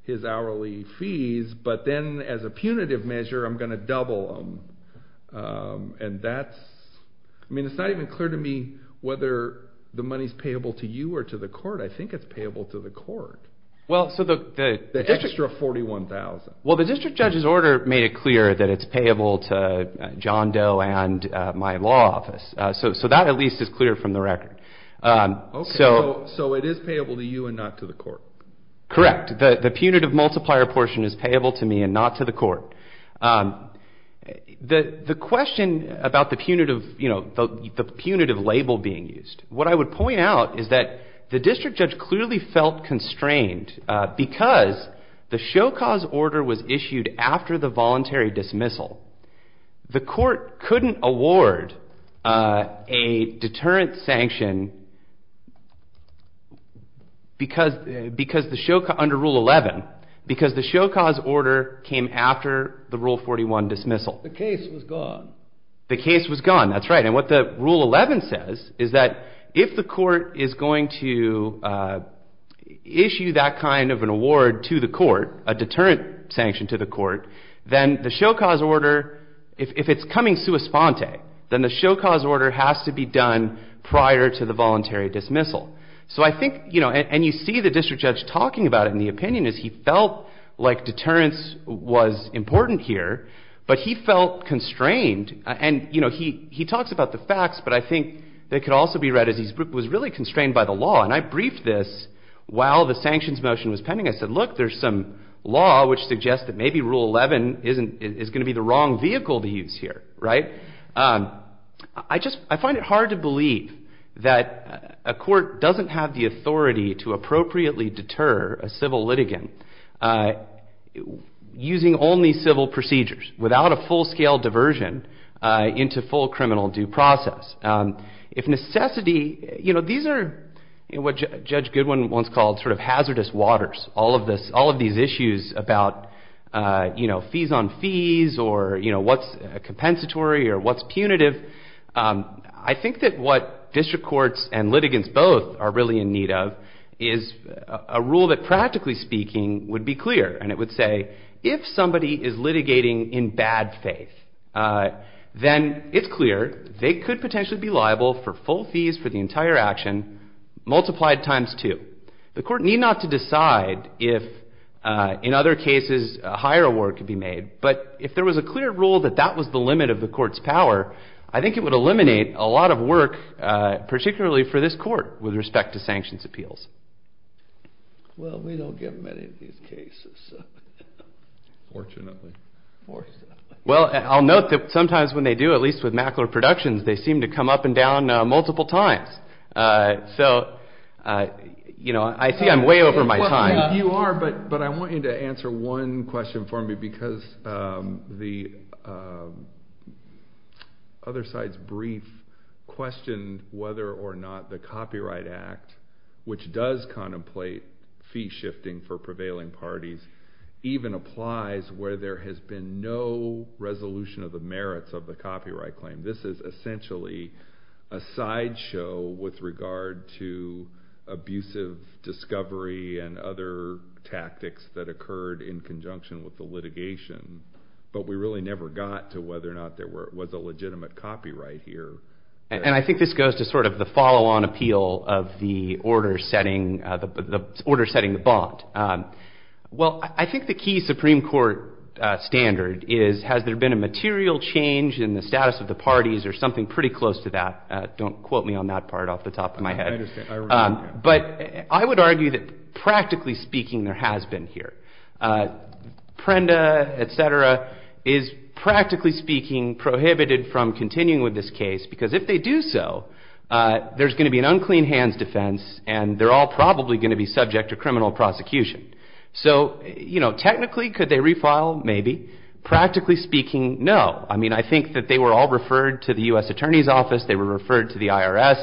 his hourly fees, but then as a punitive measure, I'm going to double them. And that's... I mean, it's not even clear to me whether the money's payable to you or to the court. I think it's payable to the court. Well, so the... The districts are $41,000. Well, the district judge's order made it clear that it's payable to John Doe and my law office, so that at least is clear from the record. Okay, so it is payable to you and not to the court. Correct. The punitive multiplier portion is payable to me and not to the court. The question about the punitive label being used, what I would point out is that the district judge clearly felt constrained because the Show Cause order was issued after the voluntary dismissal. The court couldn't award a deterrent sanction because the Show Cause... under Rule 11, because the Show Cause order came after the Rule 41 dismissal. The case was gone. The case was gone, that's right. And what the Rule 11 says is that if the court is going to issue that kind of an award to the court, a deterrent sanction to the court, then the Show Cause order, if it's coming sua sponte, then the Show Cause order has to be done prior to the voluntary dismissal. So I think, you know, and you see the district judge talking about it in the opinion is he felt like deterrence was important here, but he felt constrained. And, you know, he talks about the facts, but I think it could also be read as he was really constrained by the law. And I briefed this while the sanctions motion was pending. I said, look, there's some law which suggests that maybe Rule 11 is going to be the wrong vehicle to use here, right? I just find it hard to believe that a court doesn't have the authority to appropriately deter a civil litigant using only civil procedures, without a full-scale diversion into full criminal due process. If necessity, you know, these are what Judge Goodwin once called sort of hazardous waters. All of these issues about, you know, fees on fees or, you know, what's compensatory or what's punitive. I think that what district courts and litigants both are really in need of is a rule that practically speaking would be clear and it would say if somebody is litigating in bad faith, then it's clear they could potentially be liable for full fees for the entire action, multiplied times two. The court need not to decide if in other cases a higher award could be made, but if there was a clear rule that that was the limit of the court's power, I think it would eliminate a lot of work, particularly for this court, with respect to sanctions appeals. Well, we don't get many of these cases. Fortunately. Well, I'll note that sometimes when they do, at least with Mackler Productions, they seem to come up and down multiple times. So, you know, I see I'm way over my time. You are, but I want you to answer one question for me because the other side's brief questioned whether or not the Copyright Act, which does contemplate fee shifting for prevailing parties, even applies where there has been no resolution of the merits of the copyright claim. This is essentially a sideshow with regard to abusive discovery and other tactics that occurred in conjunction with the litigation, but we really never got to whether or not there was a legitimate copyright here. And I think this goes to sort of the follow-on appeal of the order-setting thought. Well, I think the key Supreme Court standard is has there been a material change in the status of the parties or something pretty close to that. Don't quote me on that part off the top of my head. But I would argue that practically speaking there has been here. Prenda, et cetera, is practically speaking prohibited from continuing with this case because if they do so, there's going to be an unclean hands defense and they're all probably going to be subject to criminal prosecution. So, you know, technically could they refile? Maybe. Practically speaking, no. I mean, I think that they were all referred to the U.S. Attorney's Office, they were referred to the IRS.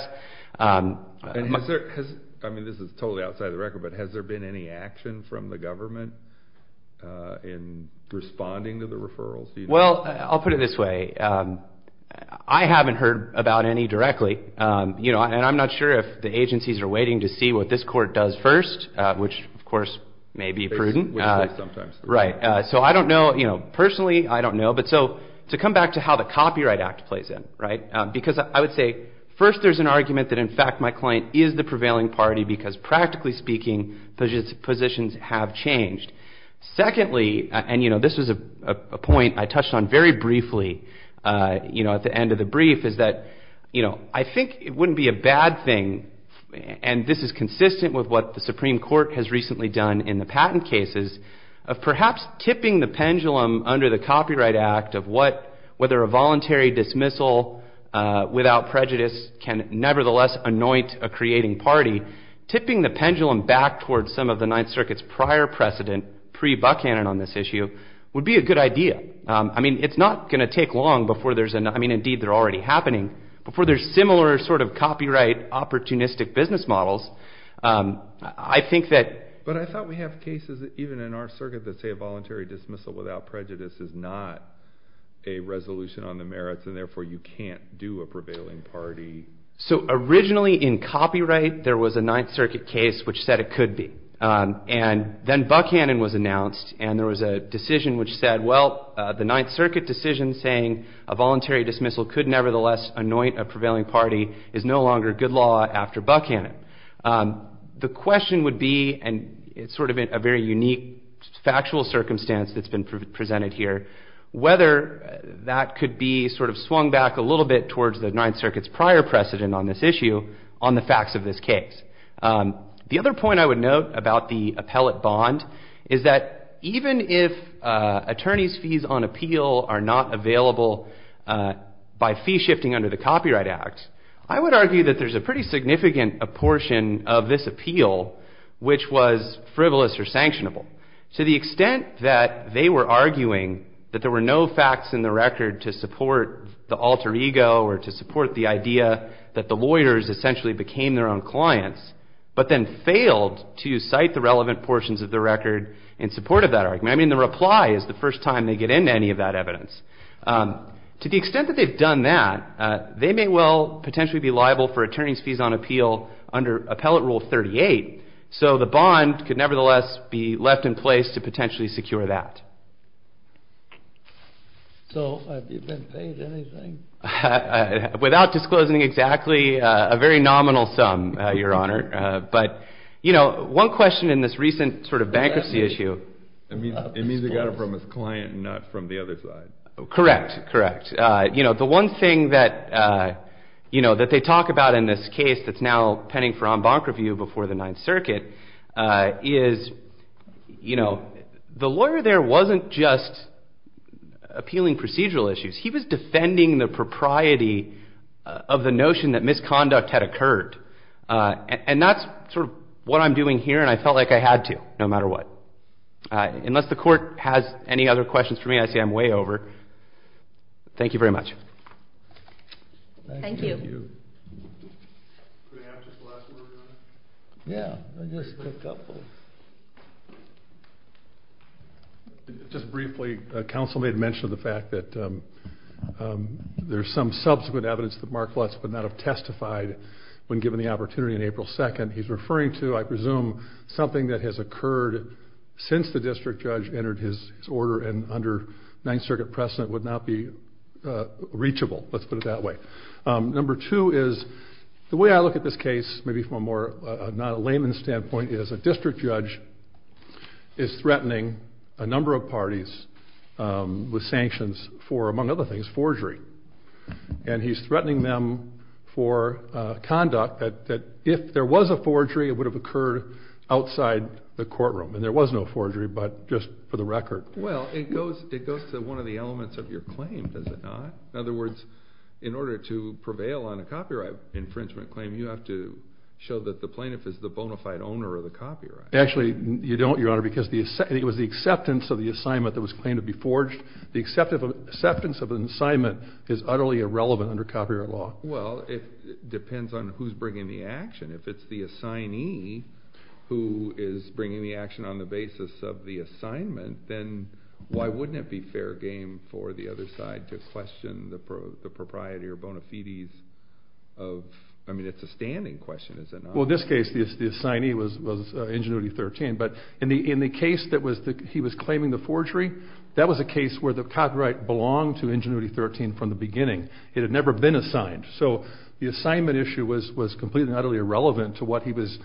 I mean, this is totally outside the record, but has there been any action from the government in responding to the referrals? Well, I'll put it this way. I haven't heard about any directly, you know, and I'm not sure if the agencies are waiting to see what this court does first, which, of course, may be prudent. Right. So I don't know, you know, personally, I don't know. But so to come back to how the Copyright Act plays in, right? Because I would say first there's an argument that in fact my client is the prevailing party because practically speaking positions have changed. Secondly, and, you know, this is a point I touched on very briefly, you know, at the end of the brief is that, you know, I think it wouldn't be a bad thing and this is consistent with what the Supreme Court has recently done in the patent cases of perhaps tipping the pendulum under the Copyright Act of whether a voluntary dismissal without prejudice can nevertheless anoint a creating party. Tipping the pendulum back towards some of the Ninth Circuit's prior precedent pre-Buckhannon on this issue would be a good idea. I mean, it's not going to take long before there's, I mean, indeed they're already happening, before there's similar sort of copyright opportunistic business models, I think that... But I thought we have cases even in our circuit that say a voluntary dismissal without prejudice is not a resolution on the merits and therefore you can't do a prevailing party. So originally in copyright there was a Ninth Circuit case which said it could be. And then Buckhannon was announced and there was a decision which said, well, the Ninth Circuit decision saying a voluntary dismissal could nevertheless anoint a prevailing party is no longer good law after Buckhannon. The question would be, and it's sort of a very unique factual circumstance that's been presented here, whether that could be sort of swung back a little bit towards the Ninth Circuit's prior precedent on this issue on the facts of this case. The other point I would note about the appellate bond is that even if attorney's fees on appeal are not available by fee shifting under the Copyright Act, I would argue that there's a pretty significant portion of this appeal which was frivolous or sanctionable. To the extent that they were arguing that there were no facts in the record to support the alter ego or to support the idea that the lawyers essentially became their own clients but then failed to cite the relevant portions of the record in support of that argument. I mean, the reply is the first time they get into any of that evidence. To the extent that they've done that, they may well potentially be liable for attorney's fees on appeal under Appellate Rule 38, so the bond could nevertheless be left in place to potentially secure that. Without disclosing exactly a very nominal sum, Your Honor. But, you know, one question in this recent sort of bankruptcy issue is it means they got it from his client and not from the other side. Correct, correct. You know, the one thing that they talk about in this case that's now pending for en banc review before the Ninth Circuit is, you know, the lawyer there wasn't just appealing procedural issues. He was defending the propriety of the notion that misconduct had occurred. And that's sort of what I'm doing here and I felt like I had to, no matter what. Unless the Court has any other questions for me, I say I'm way over. Thank you very much. Thank you. Just briefly, counsel made mention of the fact that there's some subsequent evidence that Mark Lutz would not have testified when given the opportunity on April 2nd. He's referring to, I presume, something that has occurred since the district judge entered his order and under Ninth Circuit precedent would not be reachable. Let's put it that way. Number two is the way I look at this case, maybe from a more non-layman standpoint, is a district judge is threatening a number of parties with sanctions for, among other things, forgery. And he's threatening them for conduct that if there was a forgery, it would have occurred outside the courtroom. And there was no forgery, but just for the record. Well, it goes to one of the elements of your claim, does it not? In other words, in order to prevail on a copyright infringement claim, you have to show that the plaintiff is the bona fide owner of the copyright. Actually, you don't, Your Honor, because it was the acceptance of the assignment that was claimed to be forged. The acceptance of an assignment is utterly irrelevant under copyright law. Well, it depends on who's bringing the action. If it's the assignee who is bringing the action on the basis of the assignment, then why wouldn't it be fair game for the other side to question the propriety or bona fides of... I mean, it's a standing question, isn't it? Well, in this case, the assignee was Ingenuity 13. But in the case that he was claiming the forgery, that was a case where the copyright belonged to Ingenuity 13 from the beginning. It had never been assigned. So the assignment issue was completely and utterly irrelevant to what he was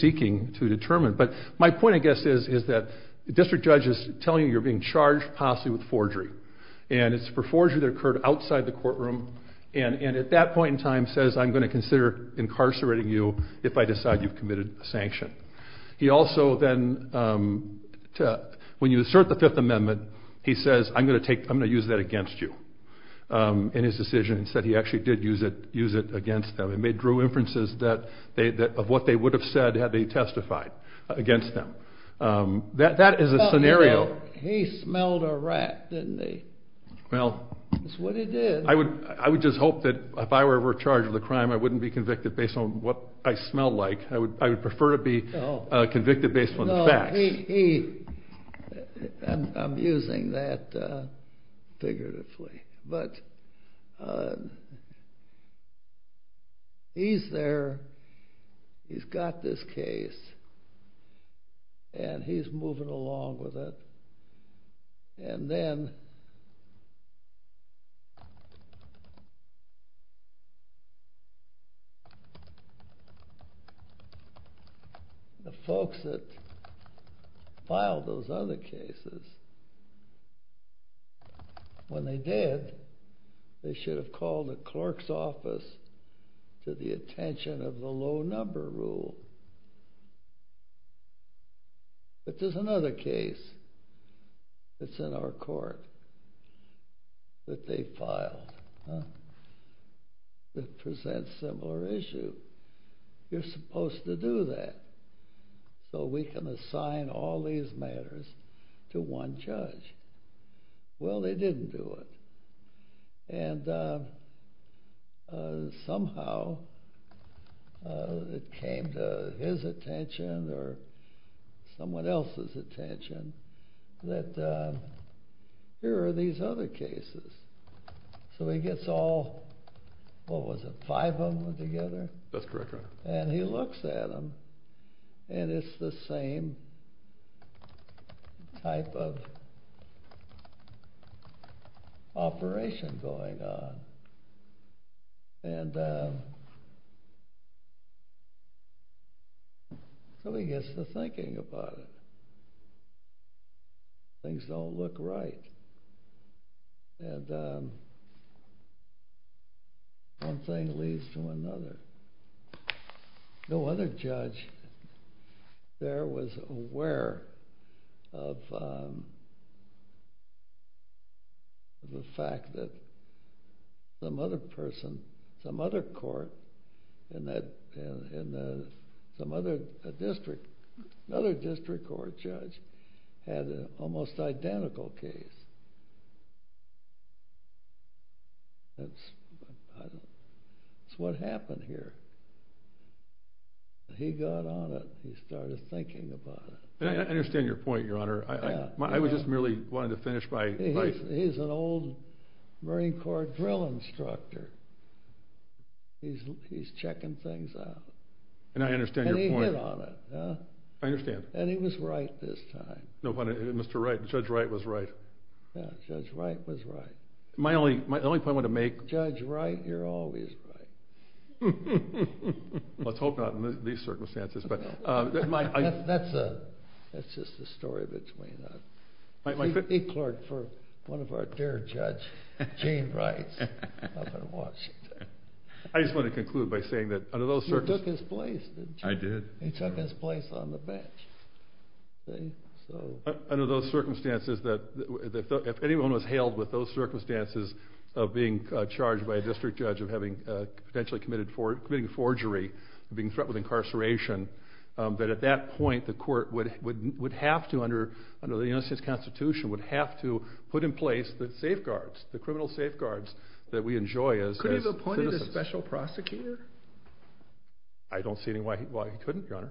seeking to determine. But my point, I guess, is that the district judge is telling you you're being charged possibly with forgery. And it's for forgery that occurred outside the courtroom. And at that point in time says, I'm going to consider incarcerating you if I decide you've committed a sanction. He also then... When you assert the Fifth Amendment, he says, I'm going to use that against you. In his decision, he said he actually did use it against them. And they drew inferences of what they would have said had they testified against them. That is a scenario... He smelled a rat, didn't he? Well... That's what he did. I would just hope that if I were charged with a crime, I wouldn't be convicted based on what I smell like. I would prefer to be convicted based on the facts. No, he... I'm using that figuratively. But... He's there. He's got this case. And he's moving along with it. And then... The folks that filed those other cases... When they did, they should have called the clerk's office to the attention of the low-number rule. But there's another case that's in our court that they filed. It presents a similar issue. You're supposed to do that so we can assign all these matters to one judge. Well, they didn't do it. And... Somehow, it came to his attention or someone else's attention that here are these other cases. So he gets all... What was it, five of them together? That's correct, Your Honor. And he looks at them, and it's the same type of... operation going on. And... So he gets to thinking about it. Things don't look right. And... One thing leads to another. No other judge there was aware of... the fact that some other person, some other court in some other district, another district court judge had an almost identical case. That's... That's what happened here. He got on it. He started thinking about it. I understand your point, Your Honor. I just merely wanted to finish by... He's an old Marine Corps drill instructor. He's checking things out. And he hit on it. I understand. And he was right this time. Mr. Wright, Judge Wright was right. Yeah, Judge Wright was right. My only point I want to make... Judge Wright, you're always right. Let's hope not in these circumstances. That's just the story between us. He clerked for one of our dear judges, Gene Wright, up in Washington. I just want to conclude by saying that... You took his place, didn't you? I did. He took his place on the bench. Under those circumstances, if anyone was held with those circumstances of being charged by a district judge of potentially committing forgery, of being threatened with incarceration, that at that point the court would have to, under the United States Constitution, would have to put in place the safeguards, the criminal safeguards that we enjoy as... Could he have appointed a special prosecutor? I don't see why he couldn't, Your Honor.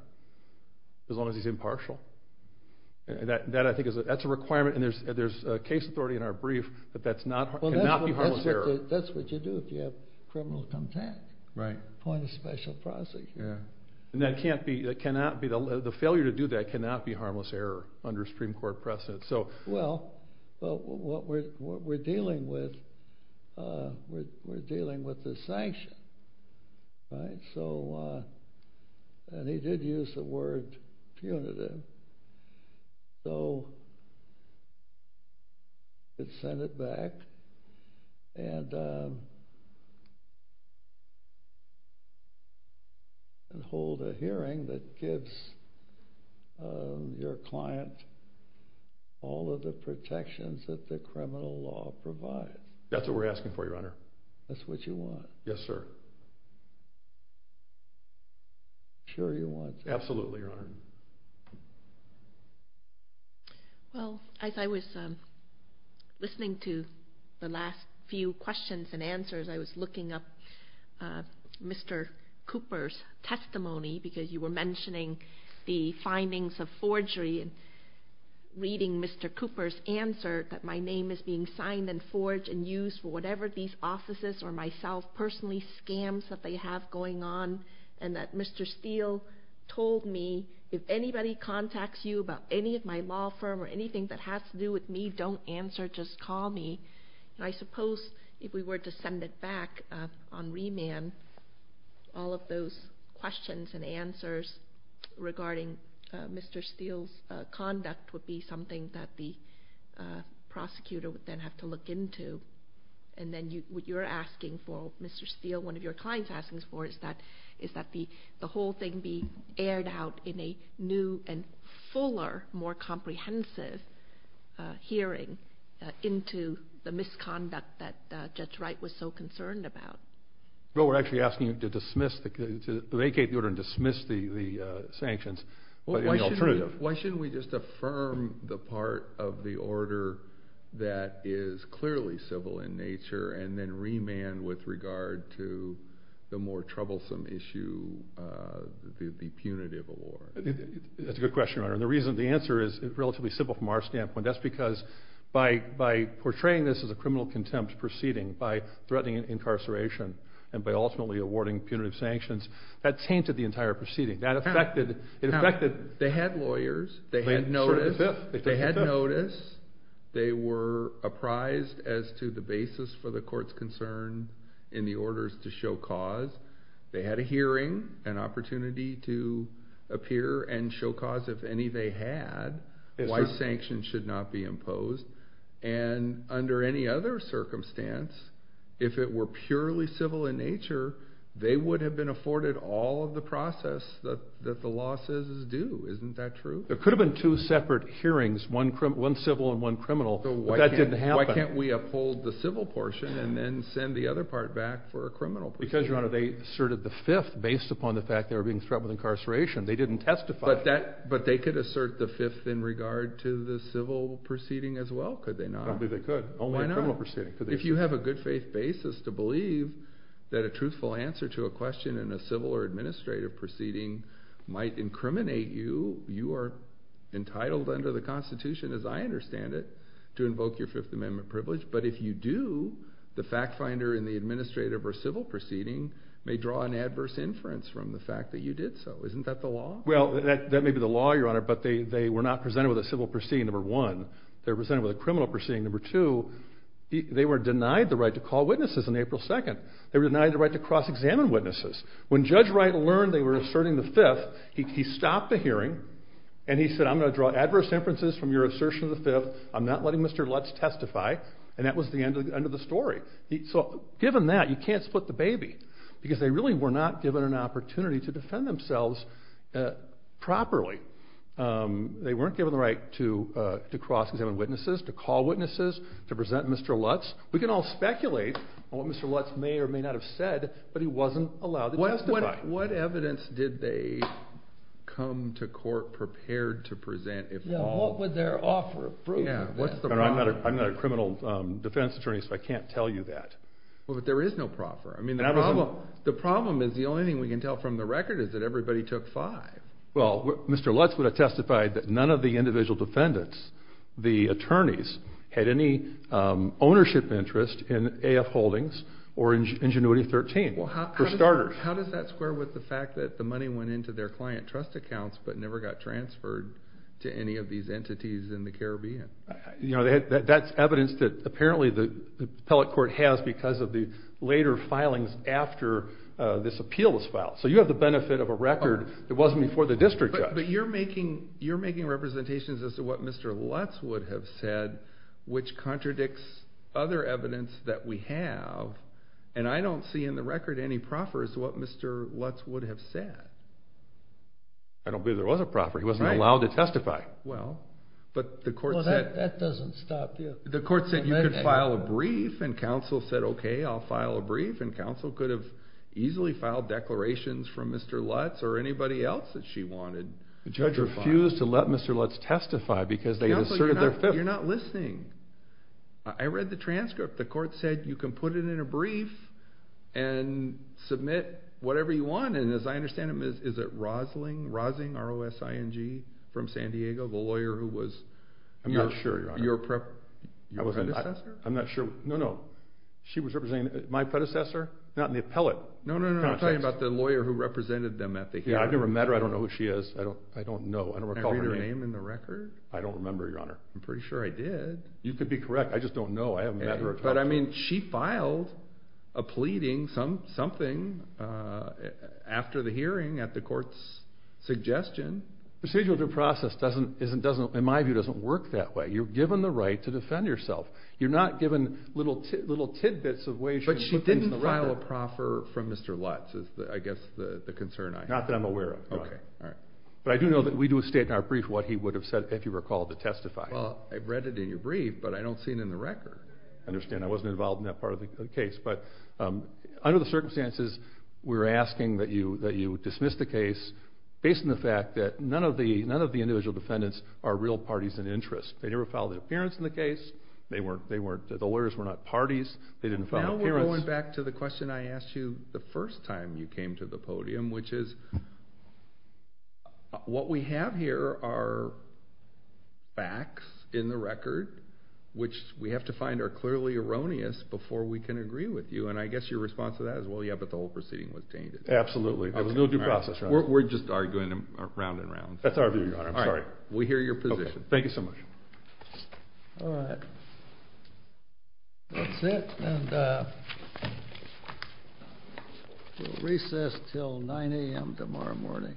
As long as he's impartial. That, I think, is a requirement, and there's case authority in our brief that that cannot be harmless error. That's what you do if you have criminal contact. Right. Appoint a special prosecutor. And that cannot be... The failure to do that cannot be harmless error under a Supreme Court precedent. Well, what we're dealing with... Right, so... And he did use the word punitive. So... You could send it back and... And hold a hearing that gives your client all of the protections that the criminal law provides. That's what we're asking for, Your Honor. That's what you want. Yes, sir. Sure you want... Absolutely, Your Honor. Well, as I was listening to the last few questions and answers, I was looking up Mr. Cooper's testimony, because you were mentioning the findings of forgery and reading Mr. Cooper's answer, that my name is being signed and forged and used for whatever these officers or myself personally scams that they have going on, and that Mr. Steele told me, if anybody contacts you about any of my law firm or anything that has to do with me, don't answer, just call me. And I suppose if we were to send it back on remand, all of those questions and answers regarding Mr. Steele's conduct would be something that the prosecutor would then have to look into. And then what you're asking for, Mr. Steele, one of your clients is asking for, is that the whole thing be aired out in a new and fuller, more comprehensive hearing into the misconduct that Judge Wright was so concerned about. Well, we're actually asking to dismiss, to vacate the order and dismiss the sanctions. Why shouldn't we just affirm the part of the order that is clearly civil in nature and then remand with regard to the more troublesome issue, the punitive award? That's a good question, Your Honor. The answer is relatively simple from our standpoint. That's because by portraying this as a criminal contempt proceeding, by threatening incarceration and by ultimately awarding punitive sanctions, that tainted the entire proceeding. It affected the head lawyers. They had notice. They were apprised as to the basis for the court's concern in the orders to show cause. They had a hearing, an opportunity to appear and show cause if any they had, why sanctions should not be imposed. And under any other circumstance, if it were purely civil in nature, they would have been afforded all of the process that the law says is due. Isn't that true? There could have been two separate hearings, one civil and one criminal, but that didn't happen. So why can't we uphold the civil portion and then send the other part back for a criminal proceeding? Because, Your Honor, they asserted the fifth based upon the fact they were being threatened with incarceration. They didn't testify. But they could assert the fifth in regard to the civil proceeding as well, could they not? I believe they could. Oh, why not? If you have a good faith basis to believe that a truthful answer to a question in a civil or administrative proceeding might incriminate you, you are entitled under the Constitution, as I understand it, to invoke your Fifth Amendment privilege. But if you do, the fact finder in the administrative or civil proceeding may draw an adverse inference from the fact that you did so. Isn't that the law? Well, that may be the law, Your Honor, but they were not presented with a civil proceeding, number one. They were presented with a criminal proceeding, number two. They were denied the right to call witnesses on April 2nd. They were denied the right to cross-examine witnesses. When Judge Wright learned they were asserting the fifth, he stopped the hearing and he said, I'm going to draw adverse inferences from your assertion of the fifth. I'm not letting Mr. Lutz testify. And that was the end of the story. So given that, you can't split the baby because they really were not given an opportunity to defend themselves properly. They weren't given the right to cross-examine witnesses, to call witnesses, to present Mr. Lutz. We can all speculate on what Mr. Lutz may or may not have said, but he wasn't allowed to testify. What evidence did they come to court prepared to present? What would their offer prove? Your Honor, I'm not a criminal defense attorney, so I can't tell you that. Well, but there is no proffer. The problem is the only thing we can tell from the record is that everybody took five. Well, Mr. Lutz would have testified that none of the individual defendants, the attorneys, had any ownership interest in AF Holdings or Ingenuity 13, for starters. Well, how does that square with the fact that the money went into their client trust accounts but never got transferred to any of these entities in the Caribbean? That's evidence that apparently the appellate court has because of the later filings after this appeal was filed. So you have the benefit of a record that wasn't before the district judge. But you're making representations as to what Mr. Lutz would have said, which contradicts other evidence that we have, and I don't see in the record any proffer as to what Mr. Lutz would have said. I don't believe there was a proffer. He wasn't allowed to testify. Well, but the court said... No, that doesn't stop. The court said you could file a brief, and counsel said, okay, I'll file a brief, from Mr. Lutz or anybody else that she wanted to file. The judge refused to let Mr. Lutz testify because they asserted their... You're not listening. I read the transcript. The court said you can put it in a brief and submit whatever you want, and as I understand it, is it Rosling, Rosling, R-O-S-I-N-G, from San Diego, the lawyer who was your predecessor? I'm not sure. No, no, she was representing my predecessor, not the appellate. No, no, no, I'm talking about the lawyer who represented them at the hearing. Yeah, I've never met her. I don't know who she is. I don't know. I don't recall her name. Can I read her name in the record? I don't remember, Your Honor. I'm pretty sure I did. You could be correct. I just don't know. But, I mean, she filed a pleading, something after the hearing, at the court's suggestion. Procedural due process doesn't, in my view, doesn't work that way. You're given the right to defend yourself. You're not given little tidbits of ways... But she didn't file a proffer from Mr. Lutz is, I guess, the concern I have. Not that I'm aware of. Okay, all right. But I do know that we do state in our brief what he would have said, if you recall, to testify. Well, I read it in your brief, but I don't see it in the record. I understand. I wasn't involved in that part of the case. But under the circumstances, we're asking that you dismiss the case based on the fact that none of the individual defendants are real parties in interest. They never filed an appearance in the case. They weren't... The lawyers were not parties. They didn't file an appearance. Now we're going back to the question I asked you the first time you came to the podium, which is, what we have here are facts in the record, which we have to find are clearly erroneous before we can agree with you. And I guess your response to that is, well, yeah, but the whole proceeding was changed. Absolutely. There was no due process. We're just arguing round and round. That's our view, Your Honor. I'm sorry. We hear your position. Thank you so much. All right. That's it. And we'll recess until 9 a.m. tomorrow morning.